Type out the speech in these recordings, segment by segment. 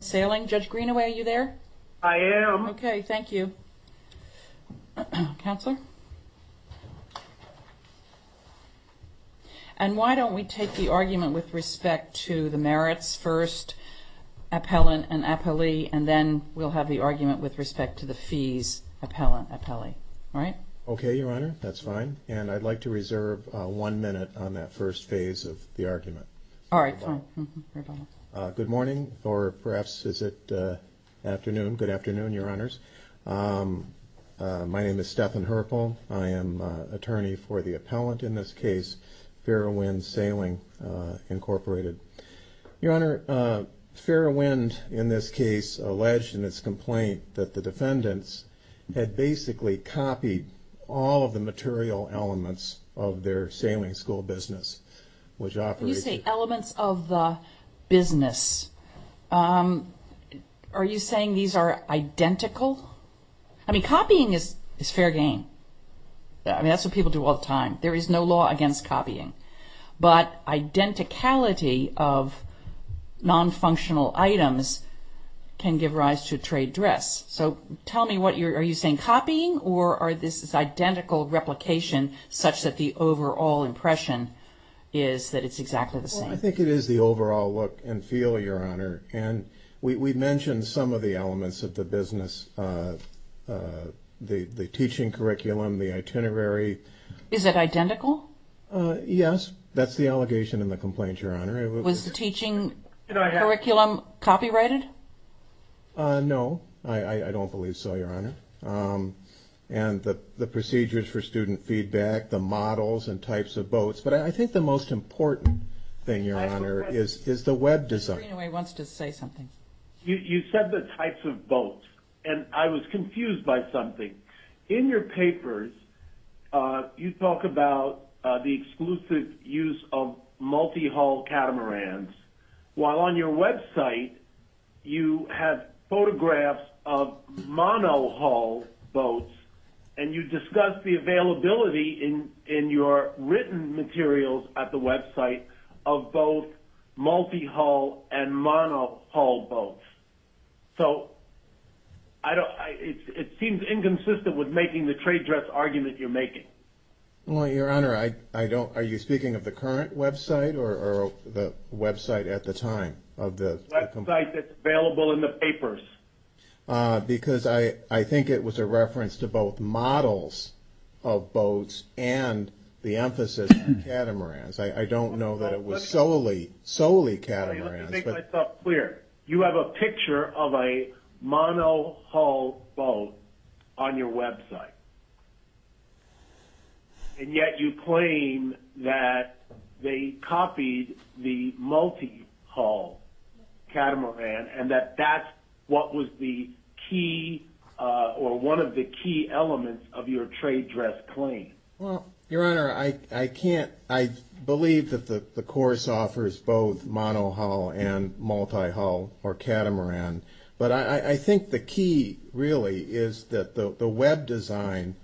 Sailing. Judge Greenaway, are you there? I am. Okay, thank you. Counselor? And why don't we take the argument with respect to the merits first, appellant and appellee, and then we'll have the argument with respect to the fees, appellant, appellee. All right? Okay, Your Honor, that's fine, and I'd like to reserve one minute on that first phase of the argument. All right. Good morning, or perhaps is it afternoon? Good afternoon, Your Honors. My name is Stephan Herpel. I am attorney for the appellant in this case, Fairwind Sailing, Incorporated. Your Honor, Fairwind, in this case, alleged in its complaint that the defendants had basically copied all of the material elements of their sailing school business, which operated... You say elements of the business. Are you saying these are identical? I mean, copying is fair game. I mean, that's what people do all the time. There is no law against copying, but identicality of non-functional items can give rise to trade dress. So tell me what you're... Are you saying copying, or are this identical replication, such that the overall impression is that it's exactly the same? I think it is the overall look and feel, Your Honor, and we mentioned some of the elements of the business, the teaching curriculum, the itinerary. Is it identical? Yes, that's the allegation in the complaint, Your Honor. Was the teaching curriculum copyrighted? No, I don't believe so, Your Honor, and the procedures for student feedback, the web design. You said the types of boats, and I was confused by something. In your papers, you talk about the exclusive use of multi-hull catamarans, while on your website, you have photographs of mono-hull boats, and you discuss the multi-hull and mono-hull boats. So it seems inconsistent with making the trade dress argument you're making. Well, Your Honor, I don't... Are you speaking of the current website, or the website at the time? The website that's available in the papers. Because I think it was a reference to both models of boats and the multi-hull catamarans. You have a picture of a mono-hull boat on your website, and yet you claim that they copied the multi-hull catamaran, and that that's what was the key, or one of the key elements of your trade dress claim. Well, Your Honor, I can't... I believe that the course offers both mono-hull and multi-hull or catamaran, but I think the key, really, is that the web design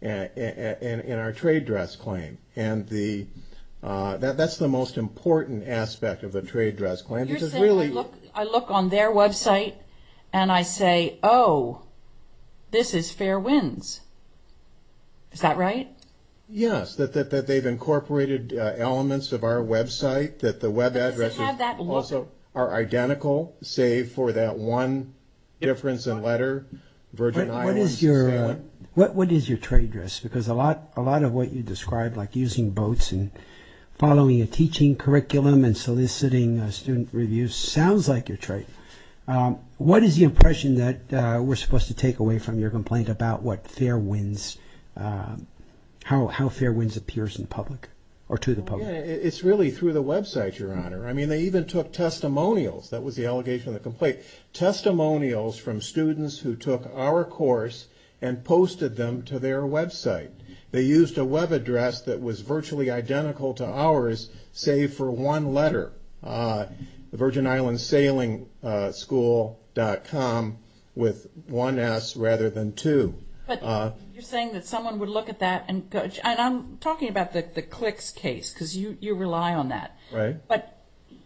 in our trade dress claim, and that's the most important aspect of the trade dress claim. You're saying I look on their website, and I say, oh, this is fair winds. Is that right? Yes, that they've incorporated elements of our website, that the web addresses also are identical, save for that one difference in letter, Virgin Islands. What is your trade dress? Because a lot of what you described, like using boats, and following a teaching curriculum, and soliciting student reviews, sounds like your trade. What is the impression that we're supposed to take away from your complaint about what fair winds, how fair winds appears in public, or to the public? It's really through the website, Your Honor. I mean, they even took testimonials, that was the allegation of the complaint, testimonials from students who took our course and posted them to their website. They used a web address that was virtually identical to ours, save for one dot com, with one S rather than two. You're saying that someone would look at that, and I'm talking about the clicks case, because you rely on that, but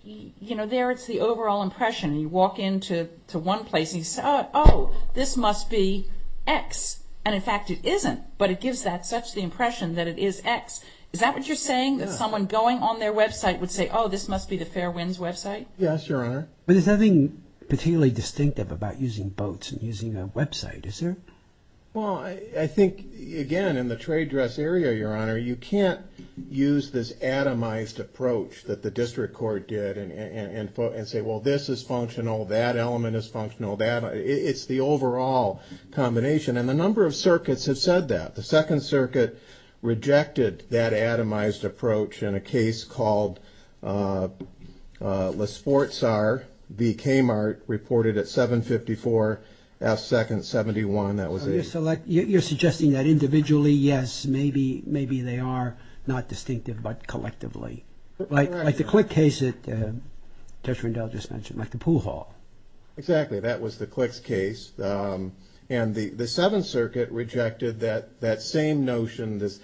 there it's the overall impression. You walk into one place, and you say, oh, this must be X, and in fact it isn't, but it gives that such the impression that it is X. Is that what you're saying, that someone going on their website would say, oh, this must be the fair winds website? Yes, Your Honor. But there's nothing particularly distinctive about using boats and using a website, is there? Well, I think, again, in the trade dress area, Your Honor, you can't use this atomized approach that the district court did and say, well, this is functional, that element is functional, that, it's the overall combination, and the number of circuits have said that. The Second Circuit rejected that atomized approach in a case called, let's see, Sportsar v. Kmart reported at 754F2-71. You're suggesting that individually, yes, maybe they are not distinctive, but collectively. Like the click case that Judge Rendell just mentioned, like the pool hall. Exactly, that was the clicks case, and the Seventh Circuit rejected that same notion, this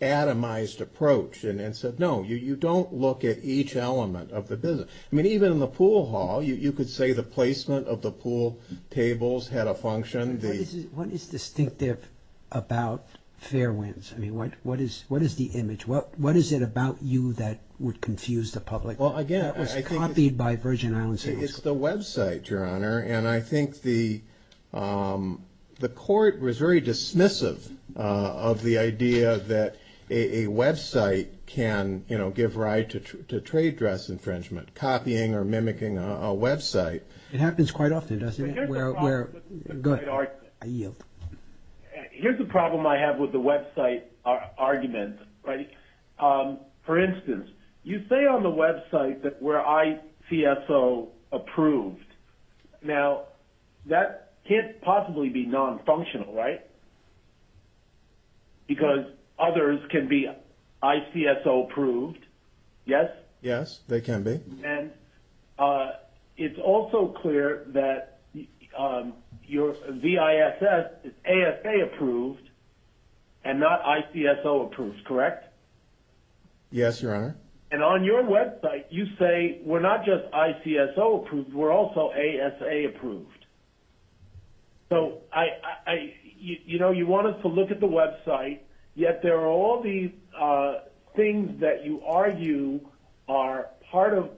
atomized approach, and said, no, you don't look at each element of the business. I mean, even in the pool hall, you could say the placement of the pool tables had a function. What is distinctive about fair winds? I mean, what is the image? What is it about you that would confuse the public? Well, again, I think it's the website. The website, Your Honor, and I think the court was very dismissive of the idea that a website can give rise to trade dress infringement, copying or mimicking a website. It happens quite often, doesn't it? Here's the problem I have with the website argument. For instance, you say on the website that we're ICSO approved. Now, that can't possibly be non-functional, right? Because others can be ICSO approved, yes? Yes, they can be. And it's also clear that your VISS is ASA approved and not ICSO approved, correct? Yes, Your Honor. And on your website, you say we're not just ICSO approved, we're also ASA approved. So, you know, you want us to look at the website, yet there are all these things that you argue are part of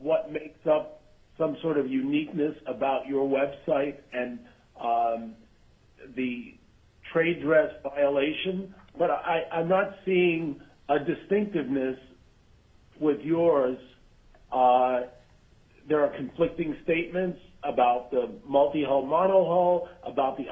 what makes up some sort of uniqueness about your website and the trade dress violation. But I'm not seeing a distinctiveness with yours. There are conflicting statements about the multi-hull, mono-hull, about the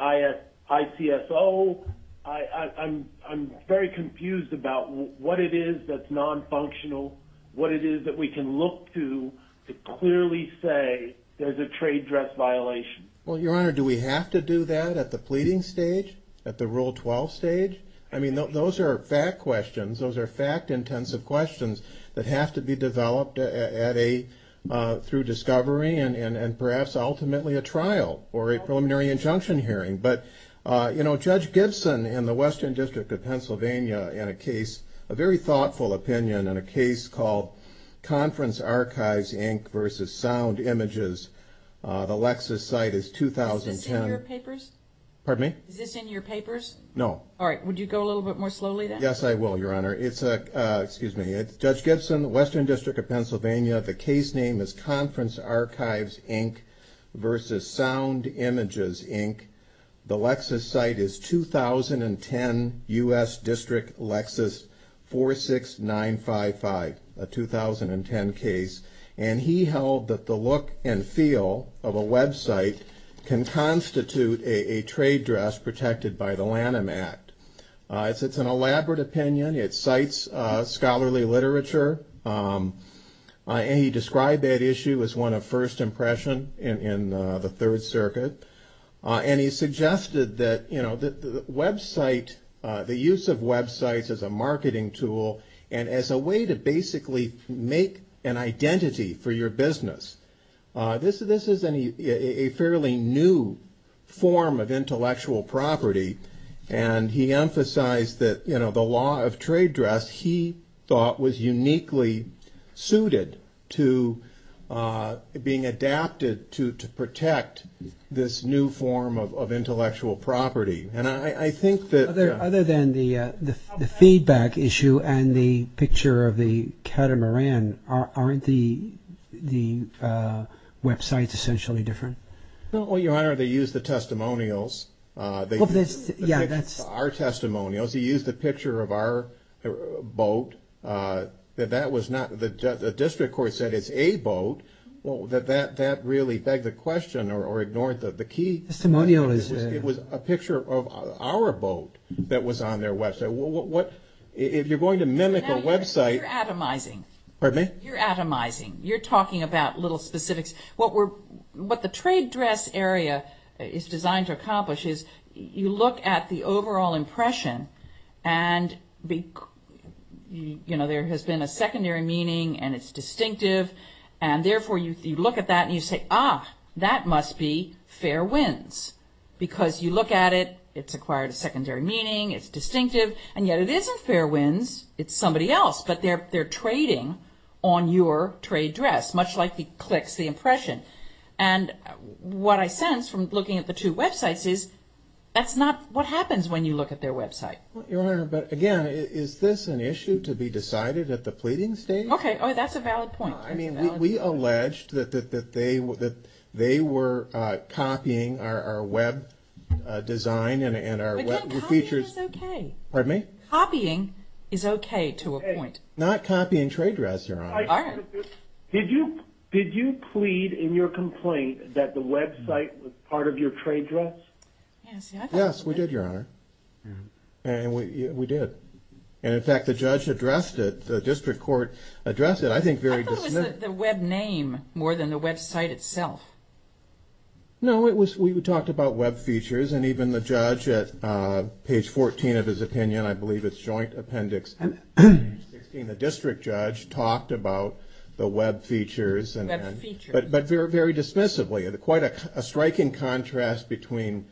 ICSO. I'm very confused about what it is that's non-functional, what it is that we can look to to clearly say there's a trade dress violation. Well, Your Honor, do we have to do that at the pleading stage, at the Rule 12 stage? I mean, those are fact questions, those are fact-intensive questions that have to be developed through discovery and perhaps ultimately a trial or a preliminary injunction hearing. But, you know, Judge Gibson in the Western District of Pennsylvania in a case, a very thoughtful opinion, in a case called Conference Archives, Inc. vs. Sound Images, the Lexis site is 2010. Is this in your papers? Pardon me? Is this in your papers? No. All right, would you go a little bit more slowly then? Yes, I will, Your Honor. It's Judge Gibson, Western District of Pennsylvania. The case name is Conference Archives, Inc. vs. Sound Images, Inc. The Lexis site is 2010 U.S. District Lexis 46955, a 2010 case. And he held that the look and feel of a website can constitute a trade dress protected by the Lanham Act. It's an elaborate opinion, it cites scholarly literature, and he described that issue as one of first impression in the Third Circuit. And he suggested that, you know, the website, the use of websites as a marketing tool and as a way to basically make an identity for your business. This is a fairly new form of intellectual property, and he emphasized that, you know, the law of trade dress he thought was uniquely suited to being adapted to protect this new form of intellectual property. Other than the feedback issue and the picture of the catamaran, aren't the websites essentially different? Well, Your Honor, they use the testimonials, our testimonials. He used the picture of our boat. That was not, the district court said it's a boat. Well, that really begged the question or ignored the key. Testimonial is. It was a picture of our boat that was on their website. What, if you're going to mimic a website. You're atomizing. Pardon me? You're atomizing. You're talking about little specifics. What the trade dress area is designed to accomplish is you look at the overall impression. And, you know, there has been a secondary meaning and it's distinctive. And therefore, you look at that and you say, ah, that must be fair winds because you look at it. It's acquired a secondary meaning. It's distinctive. And yet it isn't fair winds. It's somebody else. But they're they're trading on your trade dress, much like the clicks, the impression. And what I sense from looking at the two websites is that's not what happens when you look at their website. But again, is this an issue to be decided at the pleading stage? OK, that's a valid point. I mean, we alleged that they were that they were copying our web design and our features. Copying is OK. Pardon me? Copying is OK to a point. Not copying trade dress, Your Honor. Did you plead in your complaint that the website was part of your trade dress? Yes, we did, Your Honor. And we did. And in fact, the judge addressed it. The district court addressed it, I think, very dismissively. I thought it was the web name more than the website itself. No, it was we talked about web features and even the judge at page 14 of his opinion, I believe it's joint appendix. And the district judge talked about the web features and feature, but very, very dismissively. And quite a striking contrast between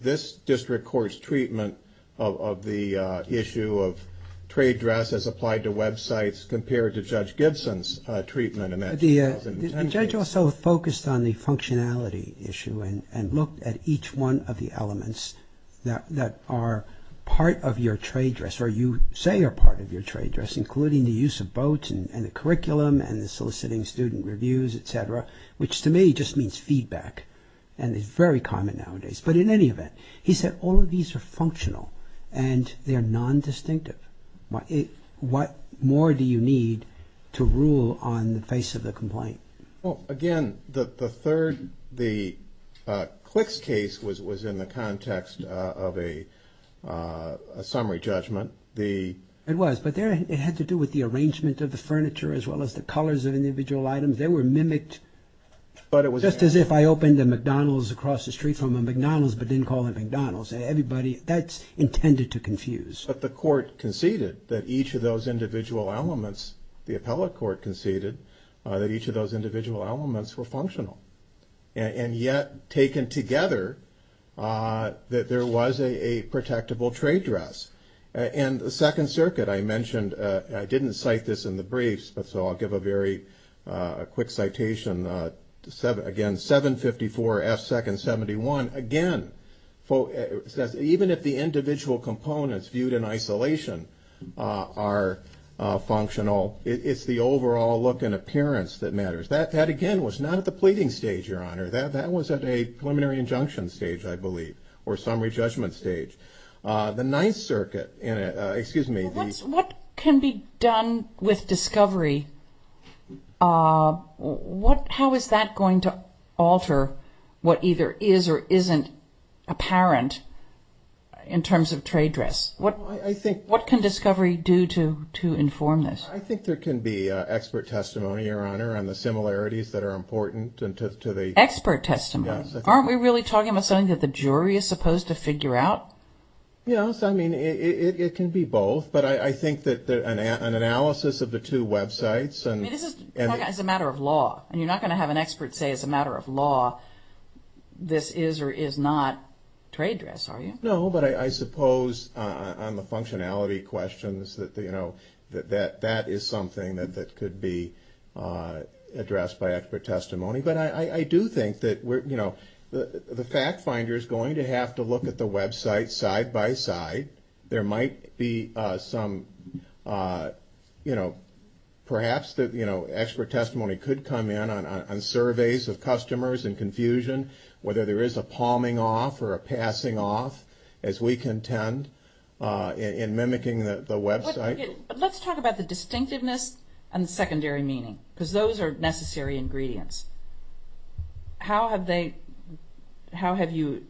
this district court's treatment of the issue of trade dress as applied to Web sites compared to Judge Gibson's treatment. The judge also focused on the functionality issue and looked at each one of the elements that are part of your trade dress, or you say are part of your trade dress, including the use of boats and the curriculum and the soliciting student reviews, etc., which to me just means feedback and is very common nowadays. But in any event, he said all of these are functional and they are non-distinctive. What more do you need to rule on the face of the complaint? Well, again, the third, the Clicks case was in the context of a summary judgment. It was, but it had to do with the arrangement of the furniture as well as the colors of individual items. They were mimicked just as if I opened a McDonald's across the street from a McDonald's but didn't call it McDonald's. Everybody, that's intended to confuse. But the court conceded that each of those individual elements, the appellate court conceded that each of those individual elements were functional. And yet, taken together, that there was a protectable trade dress. And the Second Circuit, I mentioned, I didn't cite this in the briefs, but so I'll give a very quick citation. Again, 754 F. 2nd. 71. Again, even if the individual components viewed in isolation are functional, it's the overall look and appearance that matters. That, again, was not at the pleading stage, Your Honor. That was at a preliminary injunction stage, I believe, or summary judgment stage. The Ninth Circuit, excuse me. What can be done with discovery? How is that going to alter what either is or isn't apparent in terms of trade dress? What can discovery do to inform this? I think there can be expert testimony, Your Honor, on the similarities that are important to the- Expert testimony? Yes. Aren't we really talking about something that the jury is supposed to figure out? Yes. I mean, it can be both. But I think that an analysis of the two websites- I mean, this is a matter of law. And you're not going to have an expert say, as a matter of law, this is or is not trade dress, are you? No. But I suppose on the functionality questions that that is something that could be addressed by expert testimony. But I do think that, you know, the fact finder is going to have to look at the website side by side. There might be some, you know, perhaps expert testimony could come in on surveys of customers in confusion, whether there is a palming off or a passing off, as we contend, in mimicking the website. But let's talk about the distinctiveness and the secondary meaning, because those are necessary ingredients. How have you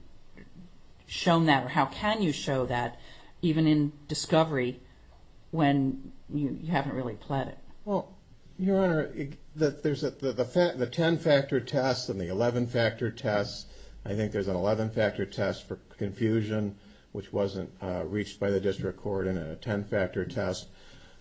shown that, or how can you show that, even in discovery, when you haven't really pled it? Well, Your Honor, the 10-factor test and the 11-factor test, I think there's an 11-factor test for confusion, which wasn't reached by the district court, and a 10-factor test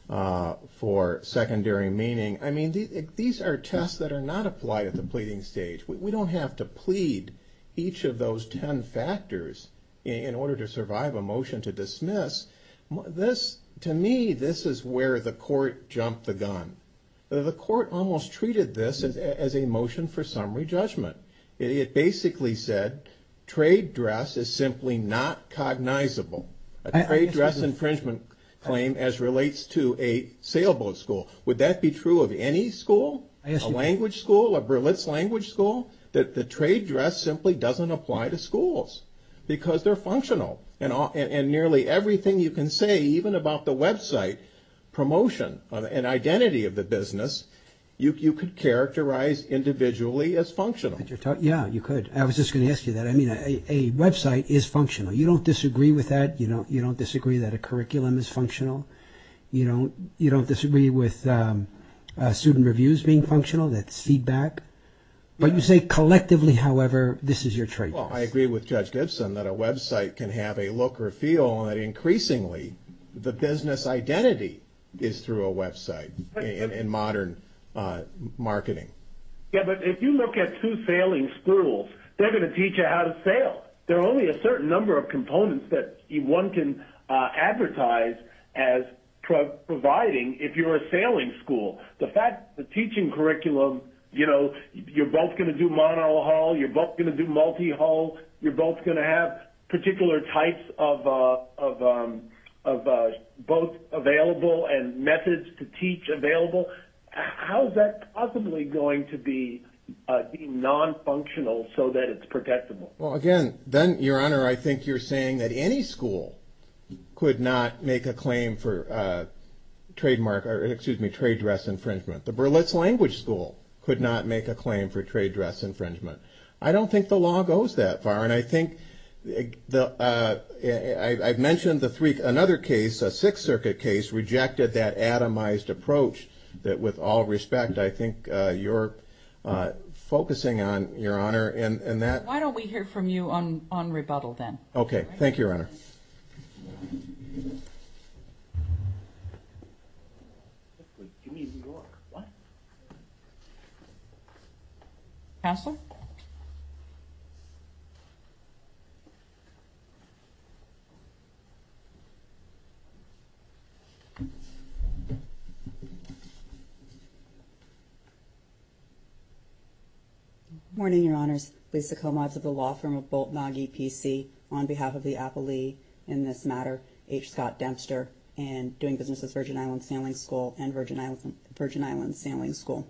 for secondary meaning. I mean, these are tests that are not applied at the pleading stage. We don't have to plead each of those 10 factors in order to survive a motion to dismiss. This, to me, this is where the court jumped the gun. The court almost treated this as a motion for summary judgment. It basically said trade dress is simply not cognizable. A trade dress infringement claim as relates to a sailboat school. Would that be true of any school? A language school? A Berlitz language school? The trade dress simply doesn't apply to schools, because they're functional. And nearly everything you can say, even about the website promotion and identity of the business, you could characterize individually as functional. Yeah, you could. I was just going to ask you that. I mean, a website is functional. You don't disagree with that. You don't disagree that a curriculum is functional. You don't disagree with student reviews being functional, that's feedback. But you say collectively, however, this is your trade dress. Well, I agree with Judge Gibson that a website can have a look or feel, and that increasingly the business identity is through a website in modern marketing. Yeah, but if you look at two sailing schools, they're going to teach you how to sail. There are only a certain number of components that one can advertise as providing if you're a sailing school. The teaching curriculum, you know, you're both going to do monohull. You're both going to do multihull. You're both going to have particular types of both available and methods to teach available. How is that possibly going to be nonfunctional so that it's protectable? Well, again, then, Your Honor, I think you're saying that any school could not make a claim for trademark or, excuse me, trade dress infringement. The Burlits Language School could not make a claim for trade dress infringement. I don't think the law goes that far. And I think I've mentioned another case, a Sixth Circuit case, rejected that atomized approach. With all respect, I think you're focusing on, Your Honor, in that. Why don't we hear from you on rebuttal then? Okay. Thank you, Your Honor. Thank you. Councilor. Good morning, Your Honors. Lisa Komatz of the law firm of Boltnage PC on behalf of the appellee in this matter, H. Scott Dempster, and doing business with Virgin Islands Sailing School and Virgin Islands Sailing School.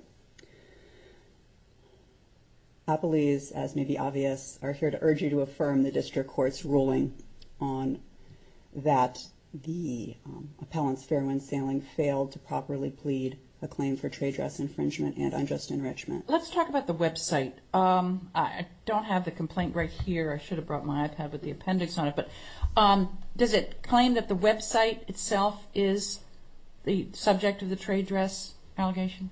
Appellees, as may be obvious, are here to urge you to affirm the district court's ruling on that the appellant's Fairwind Sailing failed to properly plead a claim for trade dress infringement and unjust enrichment. Let's talk about the website. I don't have the complaint right here. I should have brought my iPad with the appendix on it. But does it claim that the website itself is the subject of the trade dress allegation?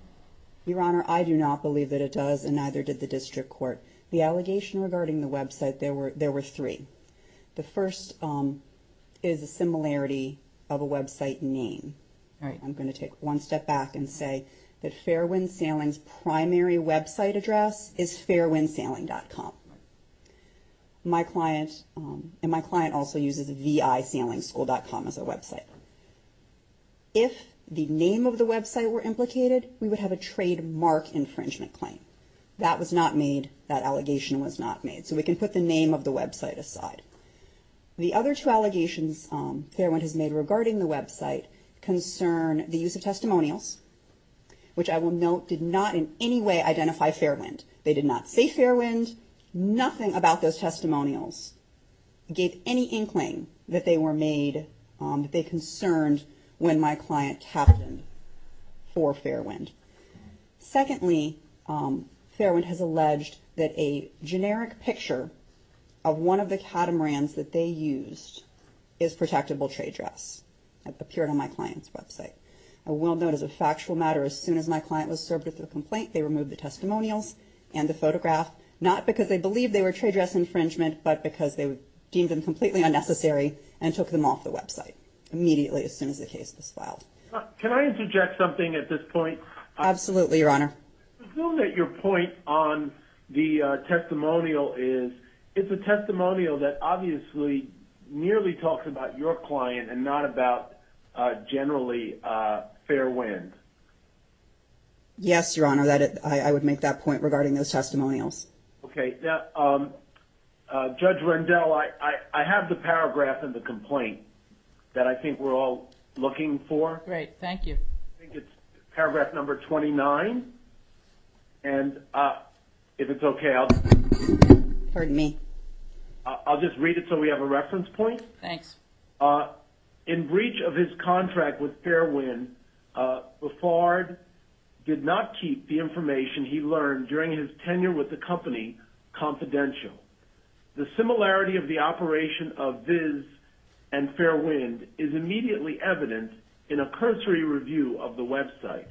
Your Honor, I do not believe that it does, and neither did the district court. The allegation regarding the website, there were three. The first is a similarity of a website name. All right. I'm going to take one step back and say that Fairwind Sailing's primary website address is fairwindsailing.com. My client also uses visailingschool.com as a website. If the name of the website were implicated, we would have a trademark infringement claim. That was not made. That allegation was not made. So we can put the name of the website aside. The other two allegations Fairwind has made regarding the website concern the use of testimonials, which I will note did not in any way identify Fairwind. They did not say Fairwind. Nothing about those testimonials gave any inkling that they were made, that they concerned when my client captained for Fairwind. Secondly, Fairwind has alleged that a generic picture of one of the catamarans that they used is protectable trade dress. It appeared on my client's website. I will note as a factual matter, as soon as my client was served with a complaint, they removed the testimonials and the photograph, not because they believed they were trade dress infringement, but because they deemed them completely unnecessary and took them off the website immediately as soon as the case was filed. Can I interject something at this point? Absolutely, Your Honor. I assume that your point on the testimonial is it's a testimonial that obviously nearly talks about your client and not about generally Fairwind. Yes, Your Honor. I would make that point regarding those testimonials. Okay. Judge Rendell, I have the paragraph in the complaint that I think we're all looking for. Great. Thank you. I think it's paragraph number 29, and if it's okay, I'll just read it so we have a reference point. Thanks. In breach of his contract with Fairwind, Befard did not keep the information he learned during his tenure with the company confidential. The similarity of the operation of Viz and Fairwind is immediately evident in a cursory review of the website.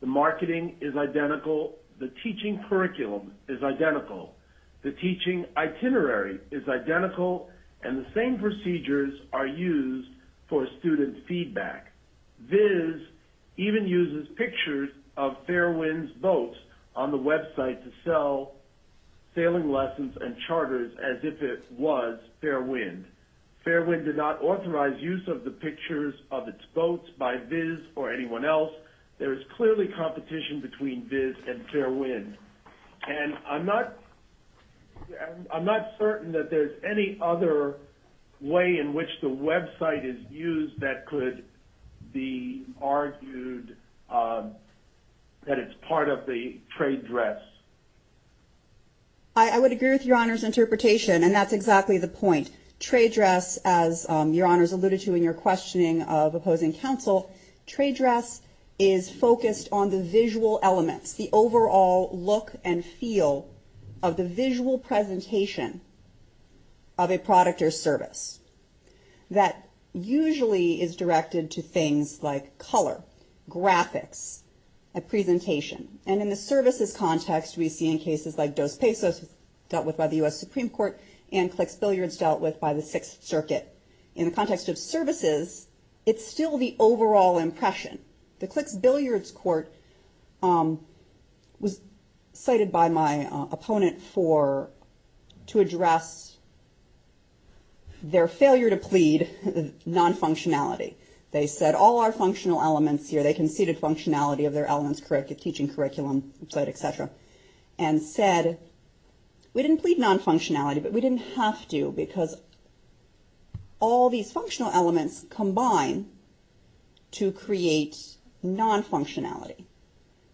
The marketing is identical. The teaching curriculum is identical. The teaching itinerary is identical, and the same procedures are used for student feedback. Viz even uses pictures of Fairwind's boats on the website to sell sailing lessons and charters as if it was Fairwind. Fairwind did not authorize use of the pictures of its boats by Viz or anyone else. There is clearly competition between Viz and Fairwind. And I'm not certain that there's any other way in which the website is used that could be argued that it's part of the trade dress. I would agree with Your Honor's interpretation, and that's exactly the point. Trade dress, as Your Honor's alluded to in your questioning of opposing counsel, trade dress is focused on the visual elements, the overall look and feel of the visual presentation of a product or service that usually is directed to things like color, graphics, a presentation. And in the services context, we see in cases like Dos Pesos dealt with by the U.S. Supreme Court and Clicks Billiards dealt with by the Sixth Circuit. In the context of services, it's still the overall impression. The Clicks Billiards court was cited by my opponent to address their failure to plead non-functionality. They said all our functional elements here, they conceded functionality of their elements, corrective teaching curriculum, et cetera, and said we didn't plead non-functionality, but we didn't have to because all these functional elements combine to create non-functionality.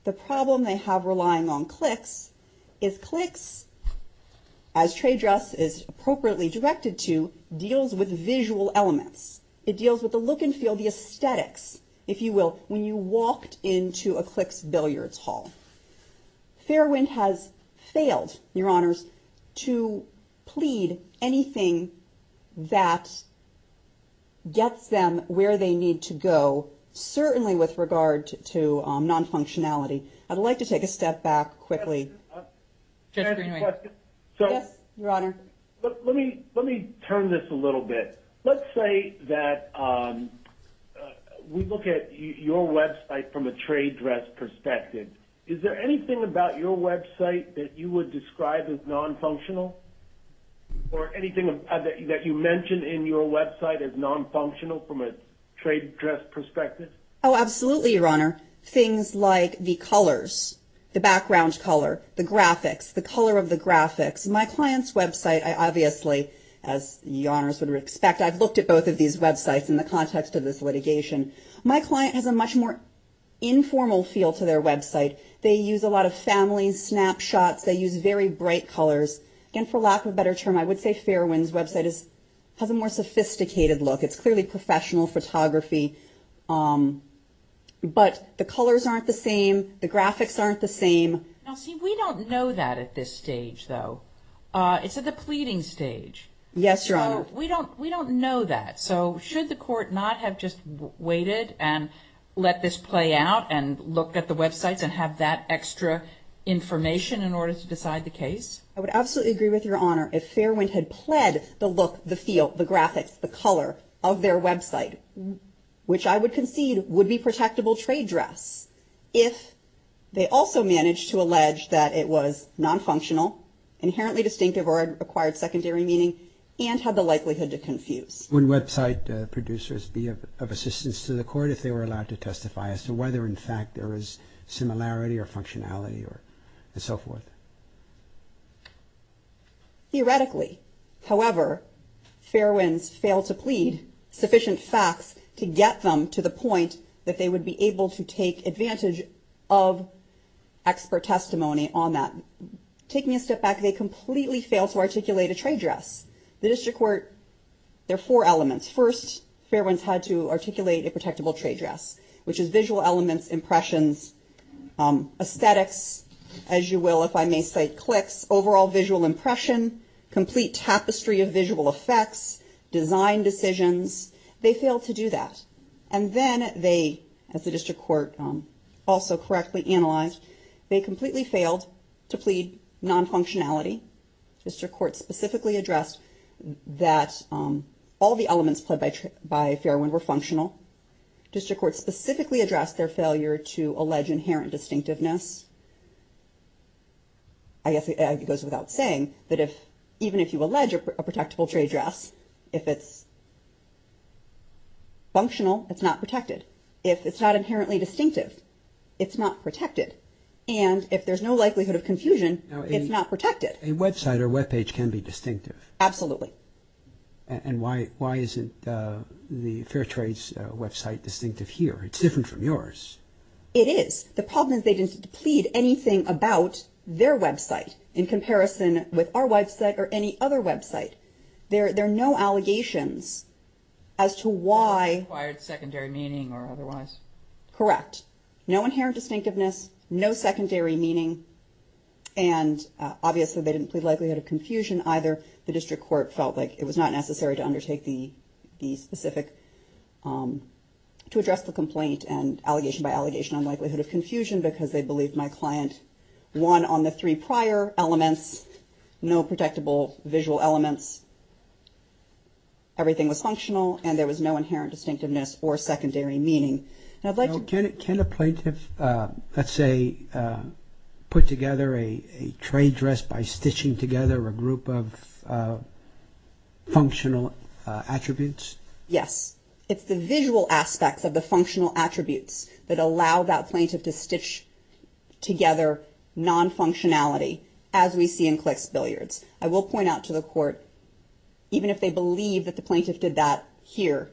The problem they have relying on clicks is clicks, as trade dress is appropriately directed to, deals with visual elements. It deals with the look and feel, the aesthetics, if you will, when you walked into a Clicks Billiards hall. Fairwind has failed, Your Honors, to plead anything that gets them where they need to go, certainly with regard to non-functionality. I'd like to take a step back quickly. Judge Greenway. Yes, Your Honor. Let me turn this a little bit. Let's say that we look at your website from a trade dress perspective. Is there anything about your website that you would describe as non-functional or anything that you mention in your website as non-functional from a trade dress perspective? Oh, absolutely, Your Honor. Things like the colors, the background color, the graphics, the color of the graphics. My client's website, I obviously, as Your Honors would expect, I've looked at both of these websites in the context of this litigation. My client has a much more informal feel to their website. They use a lot of family snapshots. They use very bright colors. And for lack of a better term, I would say Fairwind's website has a more sophisticated look. It's clearly professional photography. But the colors aren't the same. The graphics aren't the same. Now, see, we don't know that at this stage, though. It's at the pleading stage. Yes, Your Honor. So we don't know that. So should the court not have just waited and let this play out and looked at the websites and have that extra information in order to decide the case? I would absolutely agree with Your Honor if Fairwind had pled the look, the feel, the graphics, the color of their website, which I would concede would be protectable trade dress if they also managed to allege that it was non-functional, inherently distinctive or acquired secondary meaning, and had the likelihood to confuse. Would website producers be of assistance to the court if they were allowed to testify as to whether, in fact, there is similarity or functionality and so forth? Theoretically, however, Fairwind's failed to plead sufficient facts to get them to the point that they would be able to take advantage of expert testimony on that. Take me a step back. They completely failed to articulate a trade dress. The district court, there are four elements. First, Fairwind's had to articulate a protectable trade dress, which is visual elements, impressions, aesthetics, as you will, if I may say, clicks, overall visual impression, complete tapestry of visual effects, design decisions. They failed to do that. And then they, as the district court also correctly analyzed, they completely failed to plead non-functionality. District court specifically addressed that all the elements pledged by Fairwind were functional. District court specifically addressed their failure to allege inherent distinctiveness. I guess it goes without saying that if even if you allege a protectable trade dress, if it's functional, it's not protected. If it's not inherently distinctive, it's not protected. And if there's no likelihood of confusion, it's not protected. A website or web page can be distinctive. Absolutely. And why isn't the Fairtrade's website distinctive here? It's different from yours. It is. The problem is they didn't plead anything about their website in comparison with our website or any other website. There are no allegations as to why. Required secondary meaning or otherwise. Correct. No inherent distinctiveness, no secondary meaning. And obviously they didn't plead likelihood of confusion either. The district court felt like it was not necessary to undertake the specific to address the complaint and allegation by allegation on likelihood of confusion because they believed my client won on the three prior elements. No protectable visual elements. Everything was functional and there was no inherent distinctiveness or secondary meaning. Can a plaintiff, let's say, put together a trade dress by stitching together a group of functional attributes? Yes. It's the visual aspects of the functional attributes that allow that plaintiff to stitch together non-functionality as we see in clicks billiards. I will point out to the court, even if they believe that the plaintiff did that here,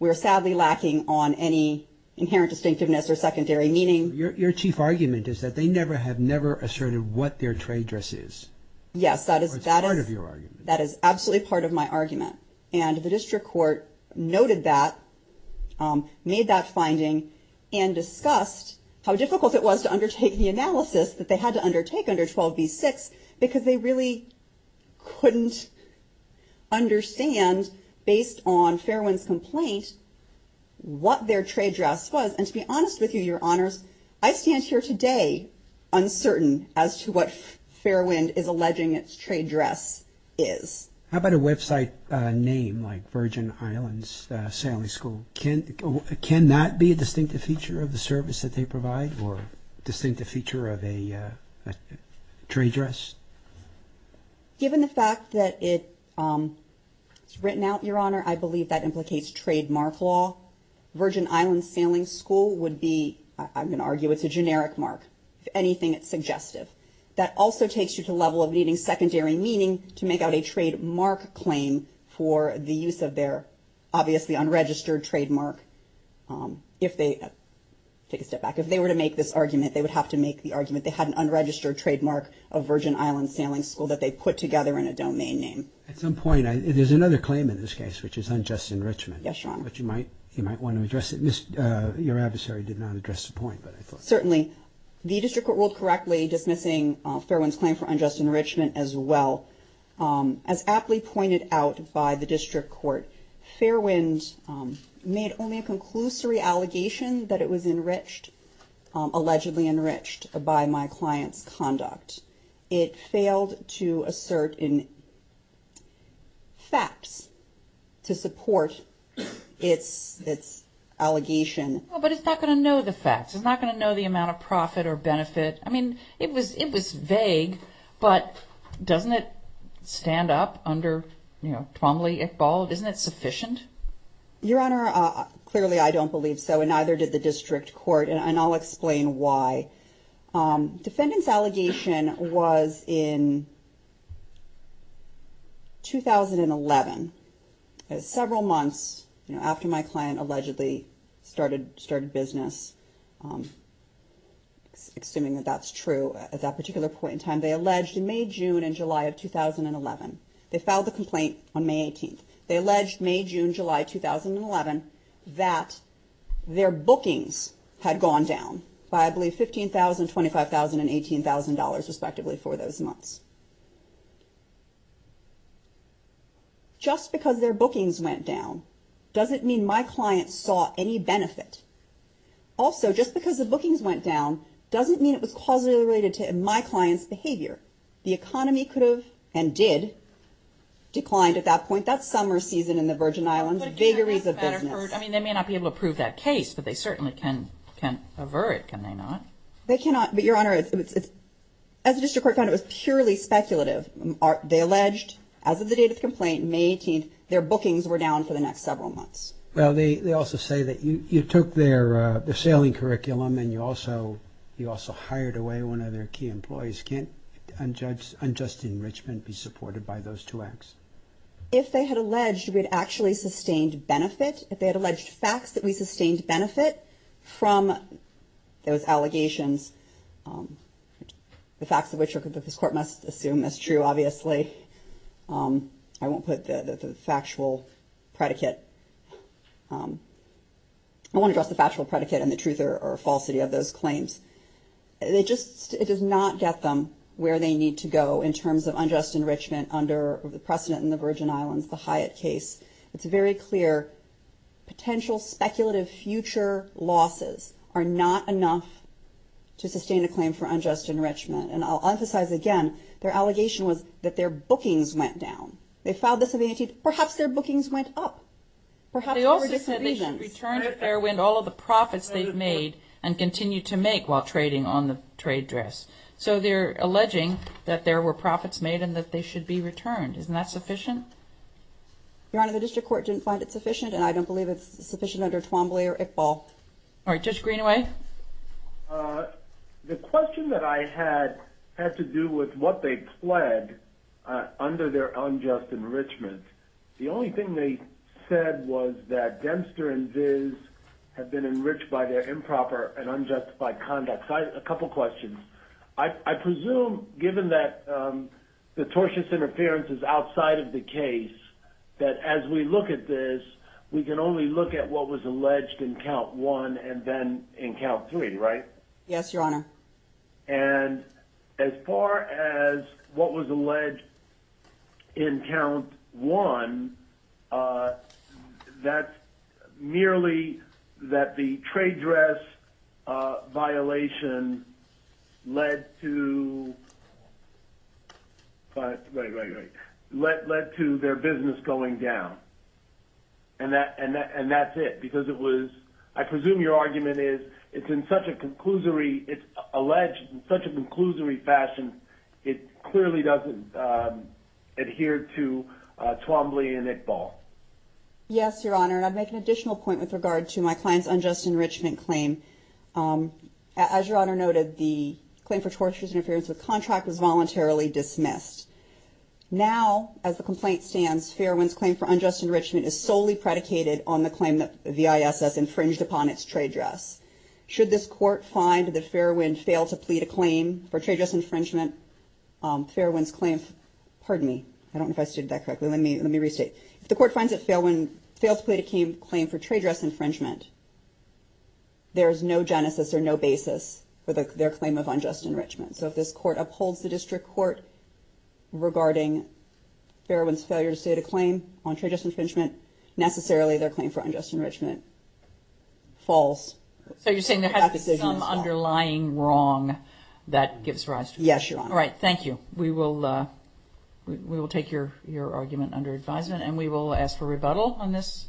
we're sadly lacking on any inherent distinctiveness or secondary meaning. Your chief argument is that they never have never asserted what their trade dress is. Yes. That is part of your argument. That is absolutely part of my argument. And the district court noted that made that finding and discussed how difficult it was to undertake the analysis that they had to undertake under 12 v. six because they really couldn't understand based on Fairwind's complaint what their trade dress was. And to be honest with you, your honors, I stand here today uncertain as to what Fairwind is alleging its trade dress is. How about a website name like Virgin Islands Sailing School? Can that be a distinctive feature of the service that they provide or distinctive feature of a trade dress? Given the fact that it's written out, your honor, I believe that implicates trademark law. Virgin Islands Sailing School would be, I'm going to argue, it's a generic mark. If anything, it's suggestive. That also takes you to the level of needing secondary meaning to make out a trademark claim for the use of their obviously unregistered trademark. If they take a step back, if they were to make this argument, they would have to make the argument. They had an unregistered trademark of Virgin Islands Sailing School that they put together in a domain name. At some point, there's another claim in this case, which is unjust enrichment. Yes, your honor. But you might you might want to address it. Your adversary did not address the point. Certainly the district court ruled correctly dismissing Fairwind's claim for unjust enrichment as well. As aptly pointed out by the district court, Fairwind made only a conclusory allegation that it was enriched, allegedly enriched by my client's conduct. It failed to assert in facts to support its its allegation. But it's not going to know the facts. It's not going to know the amount of profit or benefit. I mean, it was it was vague, but doesn't it stand up under Twombly Iqbal? Isn't it sufficient? Your honor. Clearly, I don't believe so. And neither did the district court. And I'll explain why. Defendant's allegation was in. 2011, as several months after my client allegedly started started business. Assuming that that's true at that particular point in time, they alleged in May, June and July of 2011, they filed the complaint on May 18th. They alleged May, June, July 2011 that their bookings had gone down by, I believe, 15,000, 25,000 and 18,000 dollars respectively for those months. Just because their bookings went down doesn't mean my client saw any benefit. Also, just because the bookings went down doesn't mean it was causally related to my client's behavior. The economy could have and did declined at that point, that summer season in the Virgin Islands. Vigories of business. I mean, they may not be able to prove that case, but they certainly can can avert. Can they not? They cannot. But your honor, as a district court, it was purely speculative. They alleged as of the date of the complaint, May 18th, their bookings were down for the next several months. Well, they also say that you took their sailing curriculum and you also you also hired away one of their key employees. Can't unjudged unjust enrichment be supported by those two acts? If they had alleged we had actually sustained benefit, if they had alleged facts that we sustained benefit from those allegations, the facts of which this court must assume is true, obviously. I won't put the factual predicate. I want to address the factual predicate and the truth or falsity of those claims. They just it does not get them where they need to go in terms of unjust enrichment under the precedent in the Virgin Islands. The Hyatt case, it's very clear potential speculative future losses are not enough to sustain a claim for unjust enrichment. And I'll emphasize again, their allegation was that their bookings went down. They filed this. Perhaps their bookings went up. Perhaps they also said they should return to Fairwind all of the profits they've made and continue to make while trading on the trade dress. So they're alleging that there were profits made and that they should be returned. Isn't that sufficient? Your Honor, the district court didn't find it sufficient, and I don't believe it's sufficient under Twombly or Iqbal. All right, Judge Greenaway. The question that I had had to do with what they pled under their unjust enrichment. The only thing they said was that Dempster and Viz have been enriched by their improper and unjustified conduct. A couple of questions. I presume given that the tortious interference is outside of the case that as we look at this, we can only look at what was alleged in count one and then in count three, right? Yes, Your Honor. And as far as what was alleged in count one, that merely that the trade dress violation led to their business going down. And that and that's it, because it was I presume your argument is it's in such a conclusory, it's alleged in such a conclusory fashion, it clearly doesn't adhere to Twombly and Iqbal. Yes, Your Honor. And I'd make an additional point with regard to my client's unjust enrichment claim. As Your Honor noted, the claim for tortious interference with contract was voluntarily dismissed. Now, as the complaint stands, Fairwind's claim for unjust enrichment is solely predicated on the claim that the ISS infringed upon its trade dress. Should this court find that Fairwind failed to plead a claim for trade dress infringement, Fairwind's claim. Pardon me. I don't know if I said that correctly. Let me let me restate. If the court finds it failed to plead a claim for trade dress infringement, there is no genesis or no basis for their claim of unjust enrichment. So if this court upholds the district court regarding Fairwind's failure to state a claim on trade dress infringement, necessarily their claim for unjust enrichment. False. So you're saying there is some underlying wrong that gives rise to. Yes, Your Honor. All right. Thank you. We will we will take your your argument under advisement and we will ask for rebuttal on this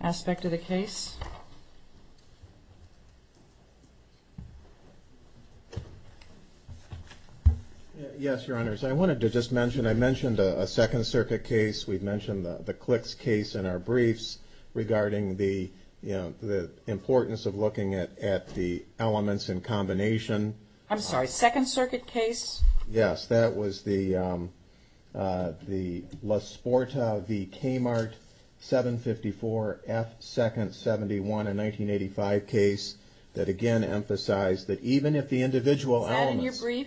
aspect of the case. Yes, Your Honor. So I wanted to just mention I mentioned a Second Circuit case. We've mentioned the clicks case in our briefs regarding the importance of looking at the elements in combination. I'm sorry, Second Circuit case. Yes, that was the the LaSporta v. Kmart 754 F Second 71 in 1985 case that again emphasized that even if the individual elements. Is that in your brief?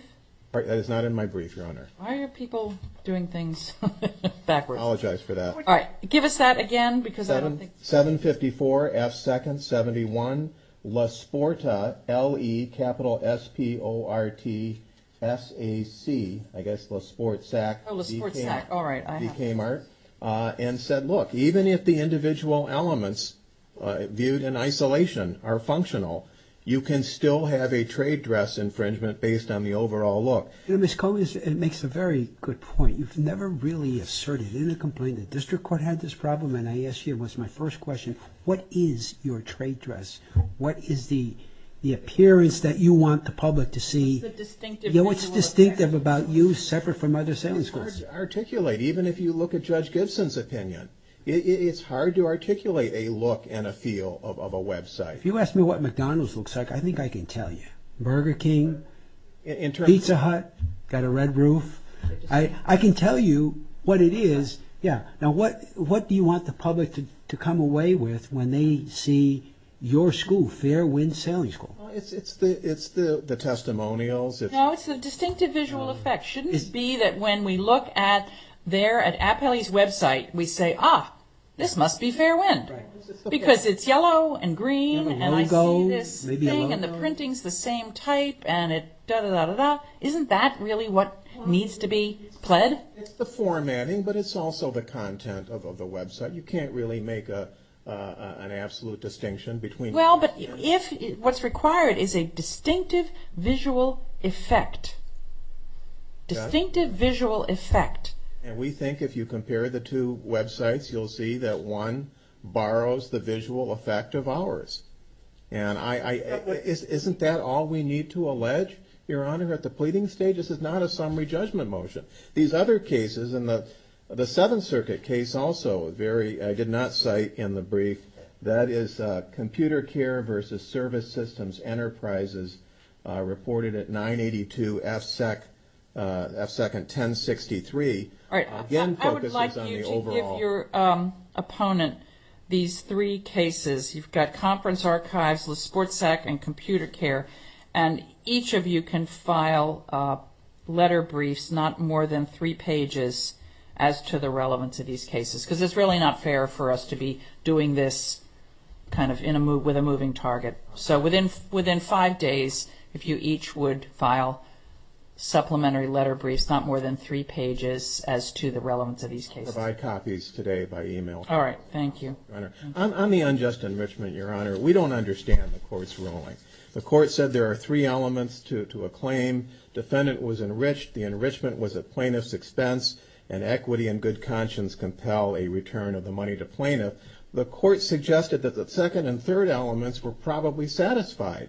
That is not in my brief, Your Honor. Why are people doing things backwards? I apologize for that. All right. Give us that again, because I don't think 754 F Second 71 LaSporta L.E. capital S.P.O.R.T. S.A.C. I guess LaSport Sac. LaSport Sac. All right. Kmart and said, look, even if the individual elements viewed in isolation are functional, you can still have a trade dress infringement based on the overall look. You know, Ms. Coggins, it makes a very good point. You've never really asserted in a complaint that district court had this problem. And I ask you, what's my first question? What is your trade dress? What is the the appearance that you want the public to see? What's distinctive about you separate from other sentence courts? It's hard to articulate. Even if you look at Judge Gibson's opinion, it's hard to articulate a look and a feel of a Web site. If you ask me what McDonald's looks like, I think I can tell you Burger King and Pizza Hut got a red roof. I can tell you what it is. Yeah. Now, what what do you want the public to come away with when they see your school fair wind sailing school? It's the it's the testimonials. It's a distinctive visual effect. It shouldn't be that when we look at there at Apelli's Web site, we say, ah, this must be fair wind because it's yellow and green. And I go this thing and the printing's the same type. And it does it out of that. Isn't that really what needs to be pled? It's the formatting, but it's also the content of the Web site. You can't really make an absolute distinction between. Well, but if what's required is a distinctive visual effect. Distinctive visual effect. And we think if you compare the two Web sites, you'll see that one borrows the visual effect of ours. And I isn't that all we need to allege? Your Honor, at the pleading stage, this is not a summary judgment motion. These other cases in the Seventh Circuit case also very I did not cite in the brief. That is computer care versus service systems enterprises reported at 982 FSEC, FSEC and 1063. All right. I would like you to give your opponent these three cases. You've got conference archives, sports sec and computer care. And each of you can file letter briefs, not more than three pages as to the relevance of these cases. Because it's really not fair for us to be doing this kind of in a move with a moving target. So within within five days, if you each would file supplementary letter briefs, not more than three pages as to the relevance of these cases. I'll provide copies today by email. All right. Thank you. I'm the unjust enrichment, Your Honor. We don't understand the court's ruling. The court said there are three elements to a claim. Defendant was enriched. The enrichment was a plaintiff's expense and equity and good conscience compel a return of the money to plaintiff. The court suggested that the second and third elements were probably satisfied.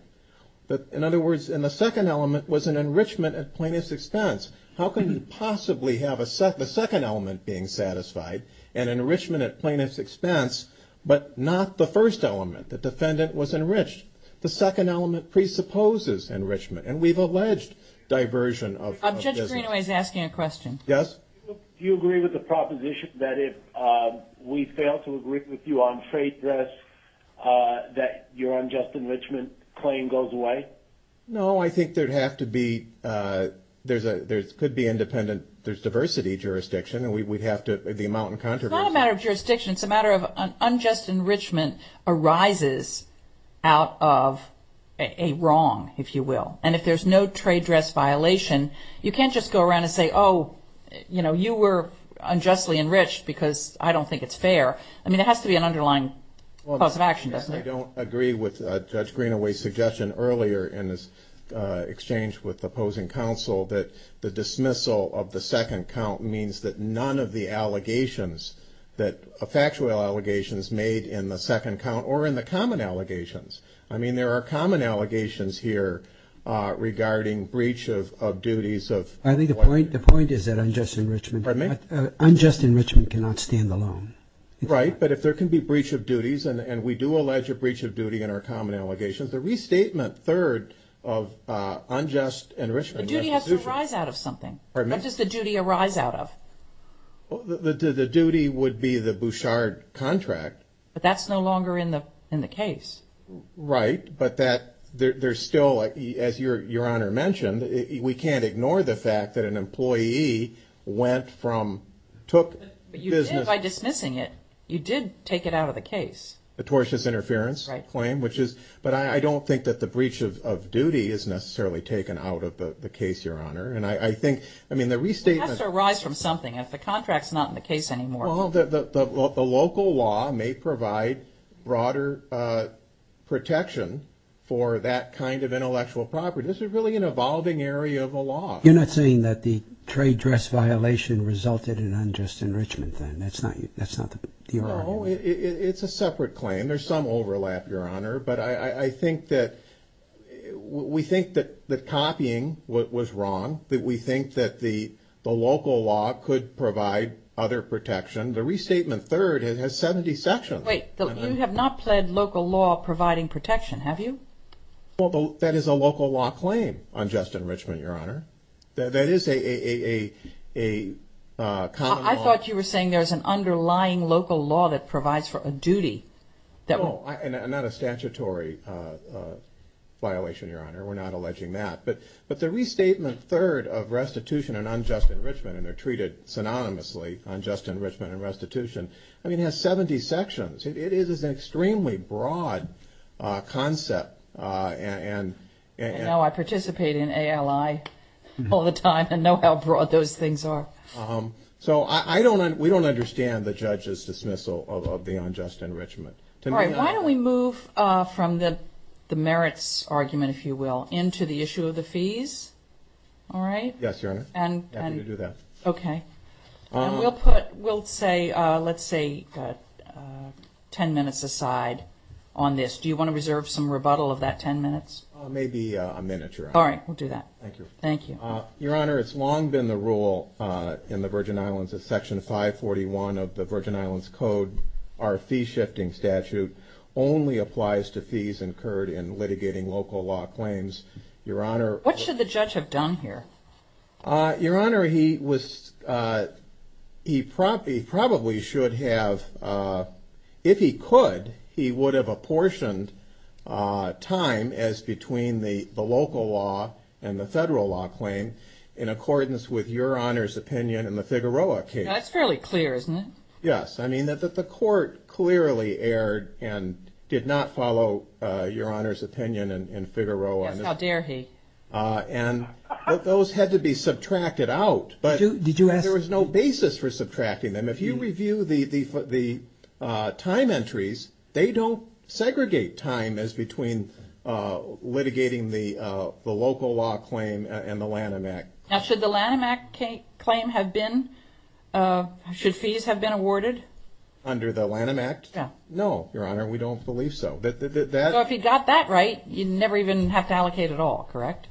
But in other words, in the second element was an enrichment at plaintiff's expense. How can you possibly have a second element being satisfied and enrichment at plaintiff's expense, but not the first element? The defendant was enriched. The second element presupposes enrichment. And we've alleged diversion of business. Judge Greenaway is asking a question. Yes? Do you agree with the proposition that if we fail to agree with you on freight risk, that your unjust enrichment claim goes away? No, I think there'd have to be – there could be independent – there's diversity jurisdiction, and we'd have to – the amount of controversy. It's not a matter of jurisdiction. It's a matter of unjust enrichment arises out of a wrong, if you will. And if there's no trade dress violation, you can't just go around and say, oh, you know, you were unjustly enriched because I don't think it's fair. I mean, there has to be an underlying cause of action, doesn't there? I don't agree with Judge Greenaway's suggestion earlier in this exchange with opposing counsel that the dismissal of the second count means that none of the allegations, that factual allegations made in the second count or in the common allegations – I mean, there are common allegations here regarding breach of duties of – I think the point is that unjust enrichment cannot stand alone. Right. But if there can be breach of duties, and we do allege a breach of duty in our common allegations, the restatement third of unjust enrichment – The duty has to arise out of something. Pardon me? What does the duty arise out of? The duty would be the Bouchard contract. But that's no longer in the case. Right, but that – there's still, as Your Honor mentioned, we can't ignore the fact that an employee went from – took business – But you did, by dismissing it, you did take it out of the case. The tortious interference claim, which is – but I don't think that the breach of duty is necessarily taken out of the case, Your Honor. And I think – I mean, the restatement – It has to arise from something. If the contract's not in the case anymore – Well, the local law may provide broader protection for that kind of intellectual property. This is really an evolving area of the law. You're not saying that the trade dress violation resulted in unjust enrichment, then? That's not the argument? No, it's a separate claim. There's some overlap, Your Honor. But I think that – we think that copying was wrong, that we think that the local law could provide other protection. The restatement third has 70 sections. Wait, you have not pled local law providing protection, have you? Well, that is a local law claim, unjust enrichment, Your Honor. That is a common law – I thought you were saying there's an underlying local law that provides for a duty. No, not a statutory violation, Your Honor. We're not alleging that. But the restatement third of restitution and unjust enrichment – and they're treated synonymously, unjust enrichment and restitution – I mean, it has 70 sections. It is an extremely broad concept, and – I know. I participate in ALI all the time and know how broad those things are. So I don't – we don't understand the judge's dismissal of the unjust enrichment. All right, why don't we move from the merits argument, if you will, into the issue of the fees, all right? Yes, Your Honor. Happy to do that. Okay. And we'll put – we'll say – let's say 10 minutes aside on this. Do you want to reserve some rebuttal of that 10 minutes? Maybe a minute, Your Honor. All right, we'll do that. Thank you. Thank you. Your Honor, it's long been the rule in the Virgin Islands that Section 541 of the Virgin Islands Code, our fee-shifting statute, only applies to fees incurred in litigating local law claims. Your Honor – What should the judge have done here? Your Honor, he was – he probably should have – if he could, he would have apportioned time as between the local law and the federal law claim in accordance with Your Honor's opinion in the Figueroa case. That's fairly clear, isn't it? Yes. I mean, the court clearly erred and did not follow Your Honor's opinion in Figueroa. Yes, how dare he? And those had to be subtracted out, but there was no basis for subtracting them. If you review the time entries, they don't segregate time as between litigating the local law claim and the Lanham Act. Now, should the Lanham Act claim have been – should fees have been awarded? Under the Lanham Act? Yeah. No, Your Honor, we don't believe so. So if he got that right, you'd never even have to allocate at all, correct?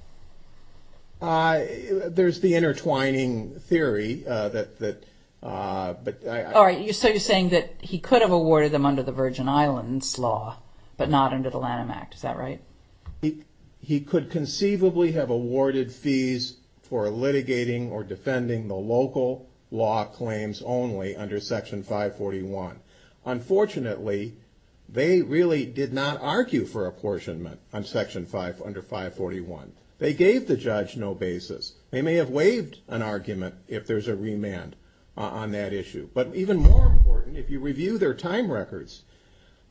There's the intertwining theory that – All right, so you're saying that he could have awarded them under the Virgin Islands law, but not under the Lanham Act. Is that right? He could conceivably have awarded fees for litigating or defending the local law claims only under Section 541. Unfortunately, they really did not argue for apportionment under Section 541. They gave the judge no basis. They may have waived an argument if there's a remand on that issue. But even more important, if you review their time records,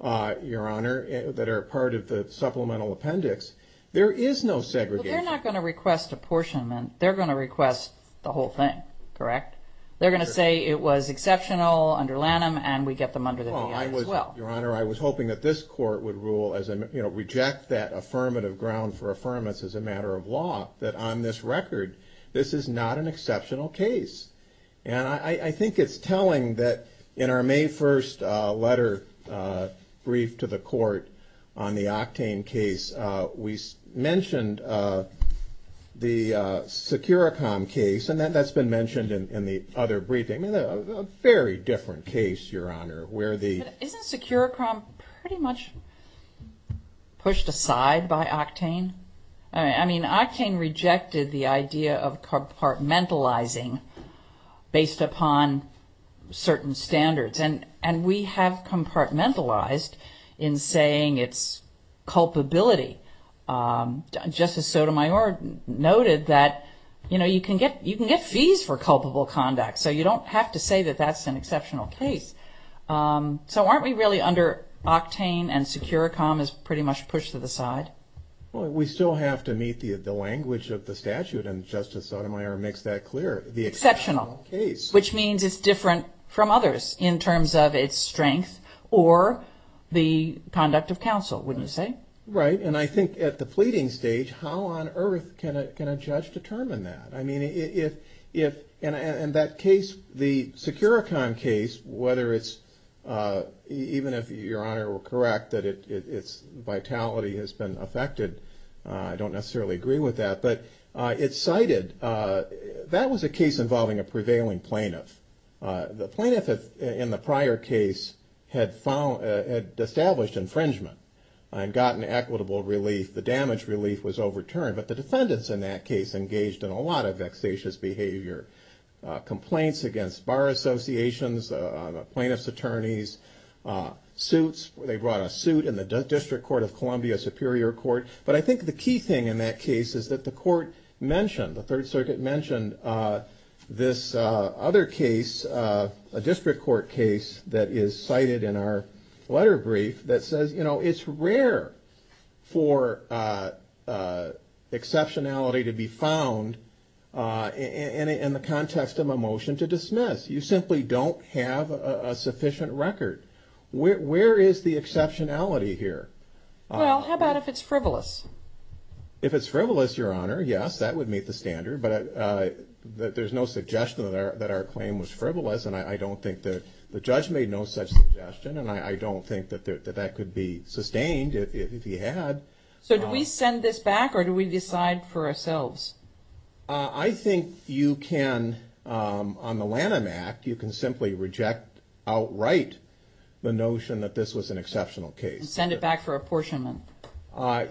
Your Honor, that are part of the supplemental appendix, there is no segregation. Well, they're not going to request apportionment. They're going to request the whole thing, correct? They're going to say it was exceptional under Lanham and we get them under the VA as well. Well, Your Honor, I was hoping that this court would reject that affirmative ground for affirmance as a matter of law, that on this record, this is not an exceptional case. And I think it's telling that in our May 1st letter brief to the court on the Octane case, we mentioned the Securicom case, and that's been mentioned in the other briefing. A very different case, Your Honor, where the... Isn't Securicom pretty much pushed aside by Octane? I mean, Octane rejected the idea of compartmentalizing based upon certain standards. And we have compartmentalized in saying it's culpability. Justice Sotomayor noted that, you know, you can get fees for culpable conduct, so you don't have to say that that's an exceptional case. So aren't we really under Octane and Securicom is pretty much pushed to the side? Well, we still have to meet the language of the statute, and Justice Sotomayor makes that clear. Exceptional, which means it's different from others in terms of its strength or the conduct of counsel, wouldn't you say? Right, and I think at the pleading stage, how on earth can a judge determine that? I mean, and that case, the Securicom case, whether it's, even if Your Honor were correct, that its vitality has been affected, I don't necessarily agree with that, but it's cited, that was a case involving a prevailing plaintiff. The plaintiff in the prior case had established infringement and gotten equitable relief. The damage relief was overturned, but the defendants in that case engaged in a lot of vexatious behavior. Complaints against bar associations, plaintiff's attorneys, suits, they brought a suit in the District Court of Columbia, Superior Court. But I think the key thing in that case is that the court mentioned, the Third Circuit mentioned, this other case, a District Court case that is cited in our letter brief, that says it's rare for exceptionality to be found in the context of a motion to dismiss. You simply don't have a sufficient record. Where is the exceptionality here? Well, how about if it's frivolous? If it's frivolous, Your Honor, yes, that would meet the standard, but there's no suggestion that our claim was frivolous, and I don't think that the judge made no such suggestion, and I don't think that that could be sustained if he had. So do we send this back, or do we decide for ourselves? I think you can, on the Lanham Act, you can simply reject outright the notion that this was an exceptional case. You can send it back for apportionment.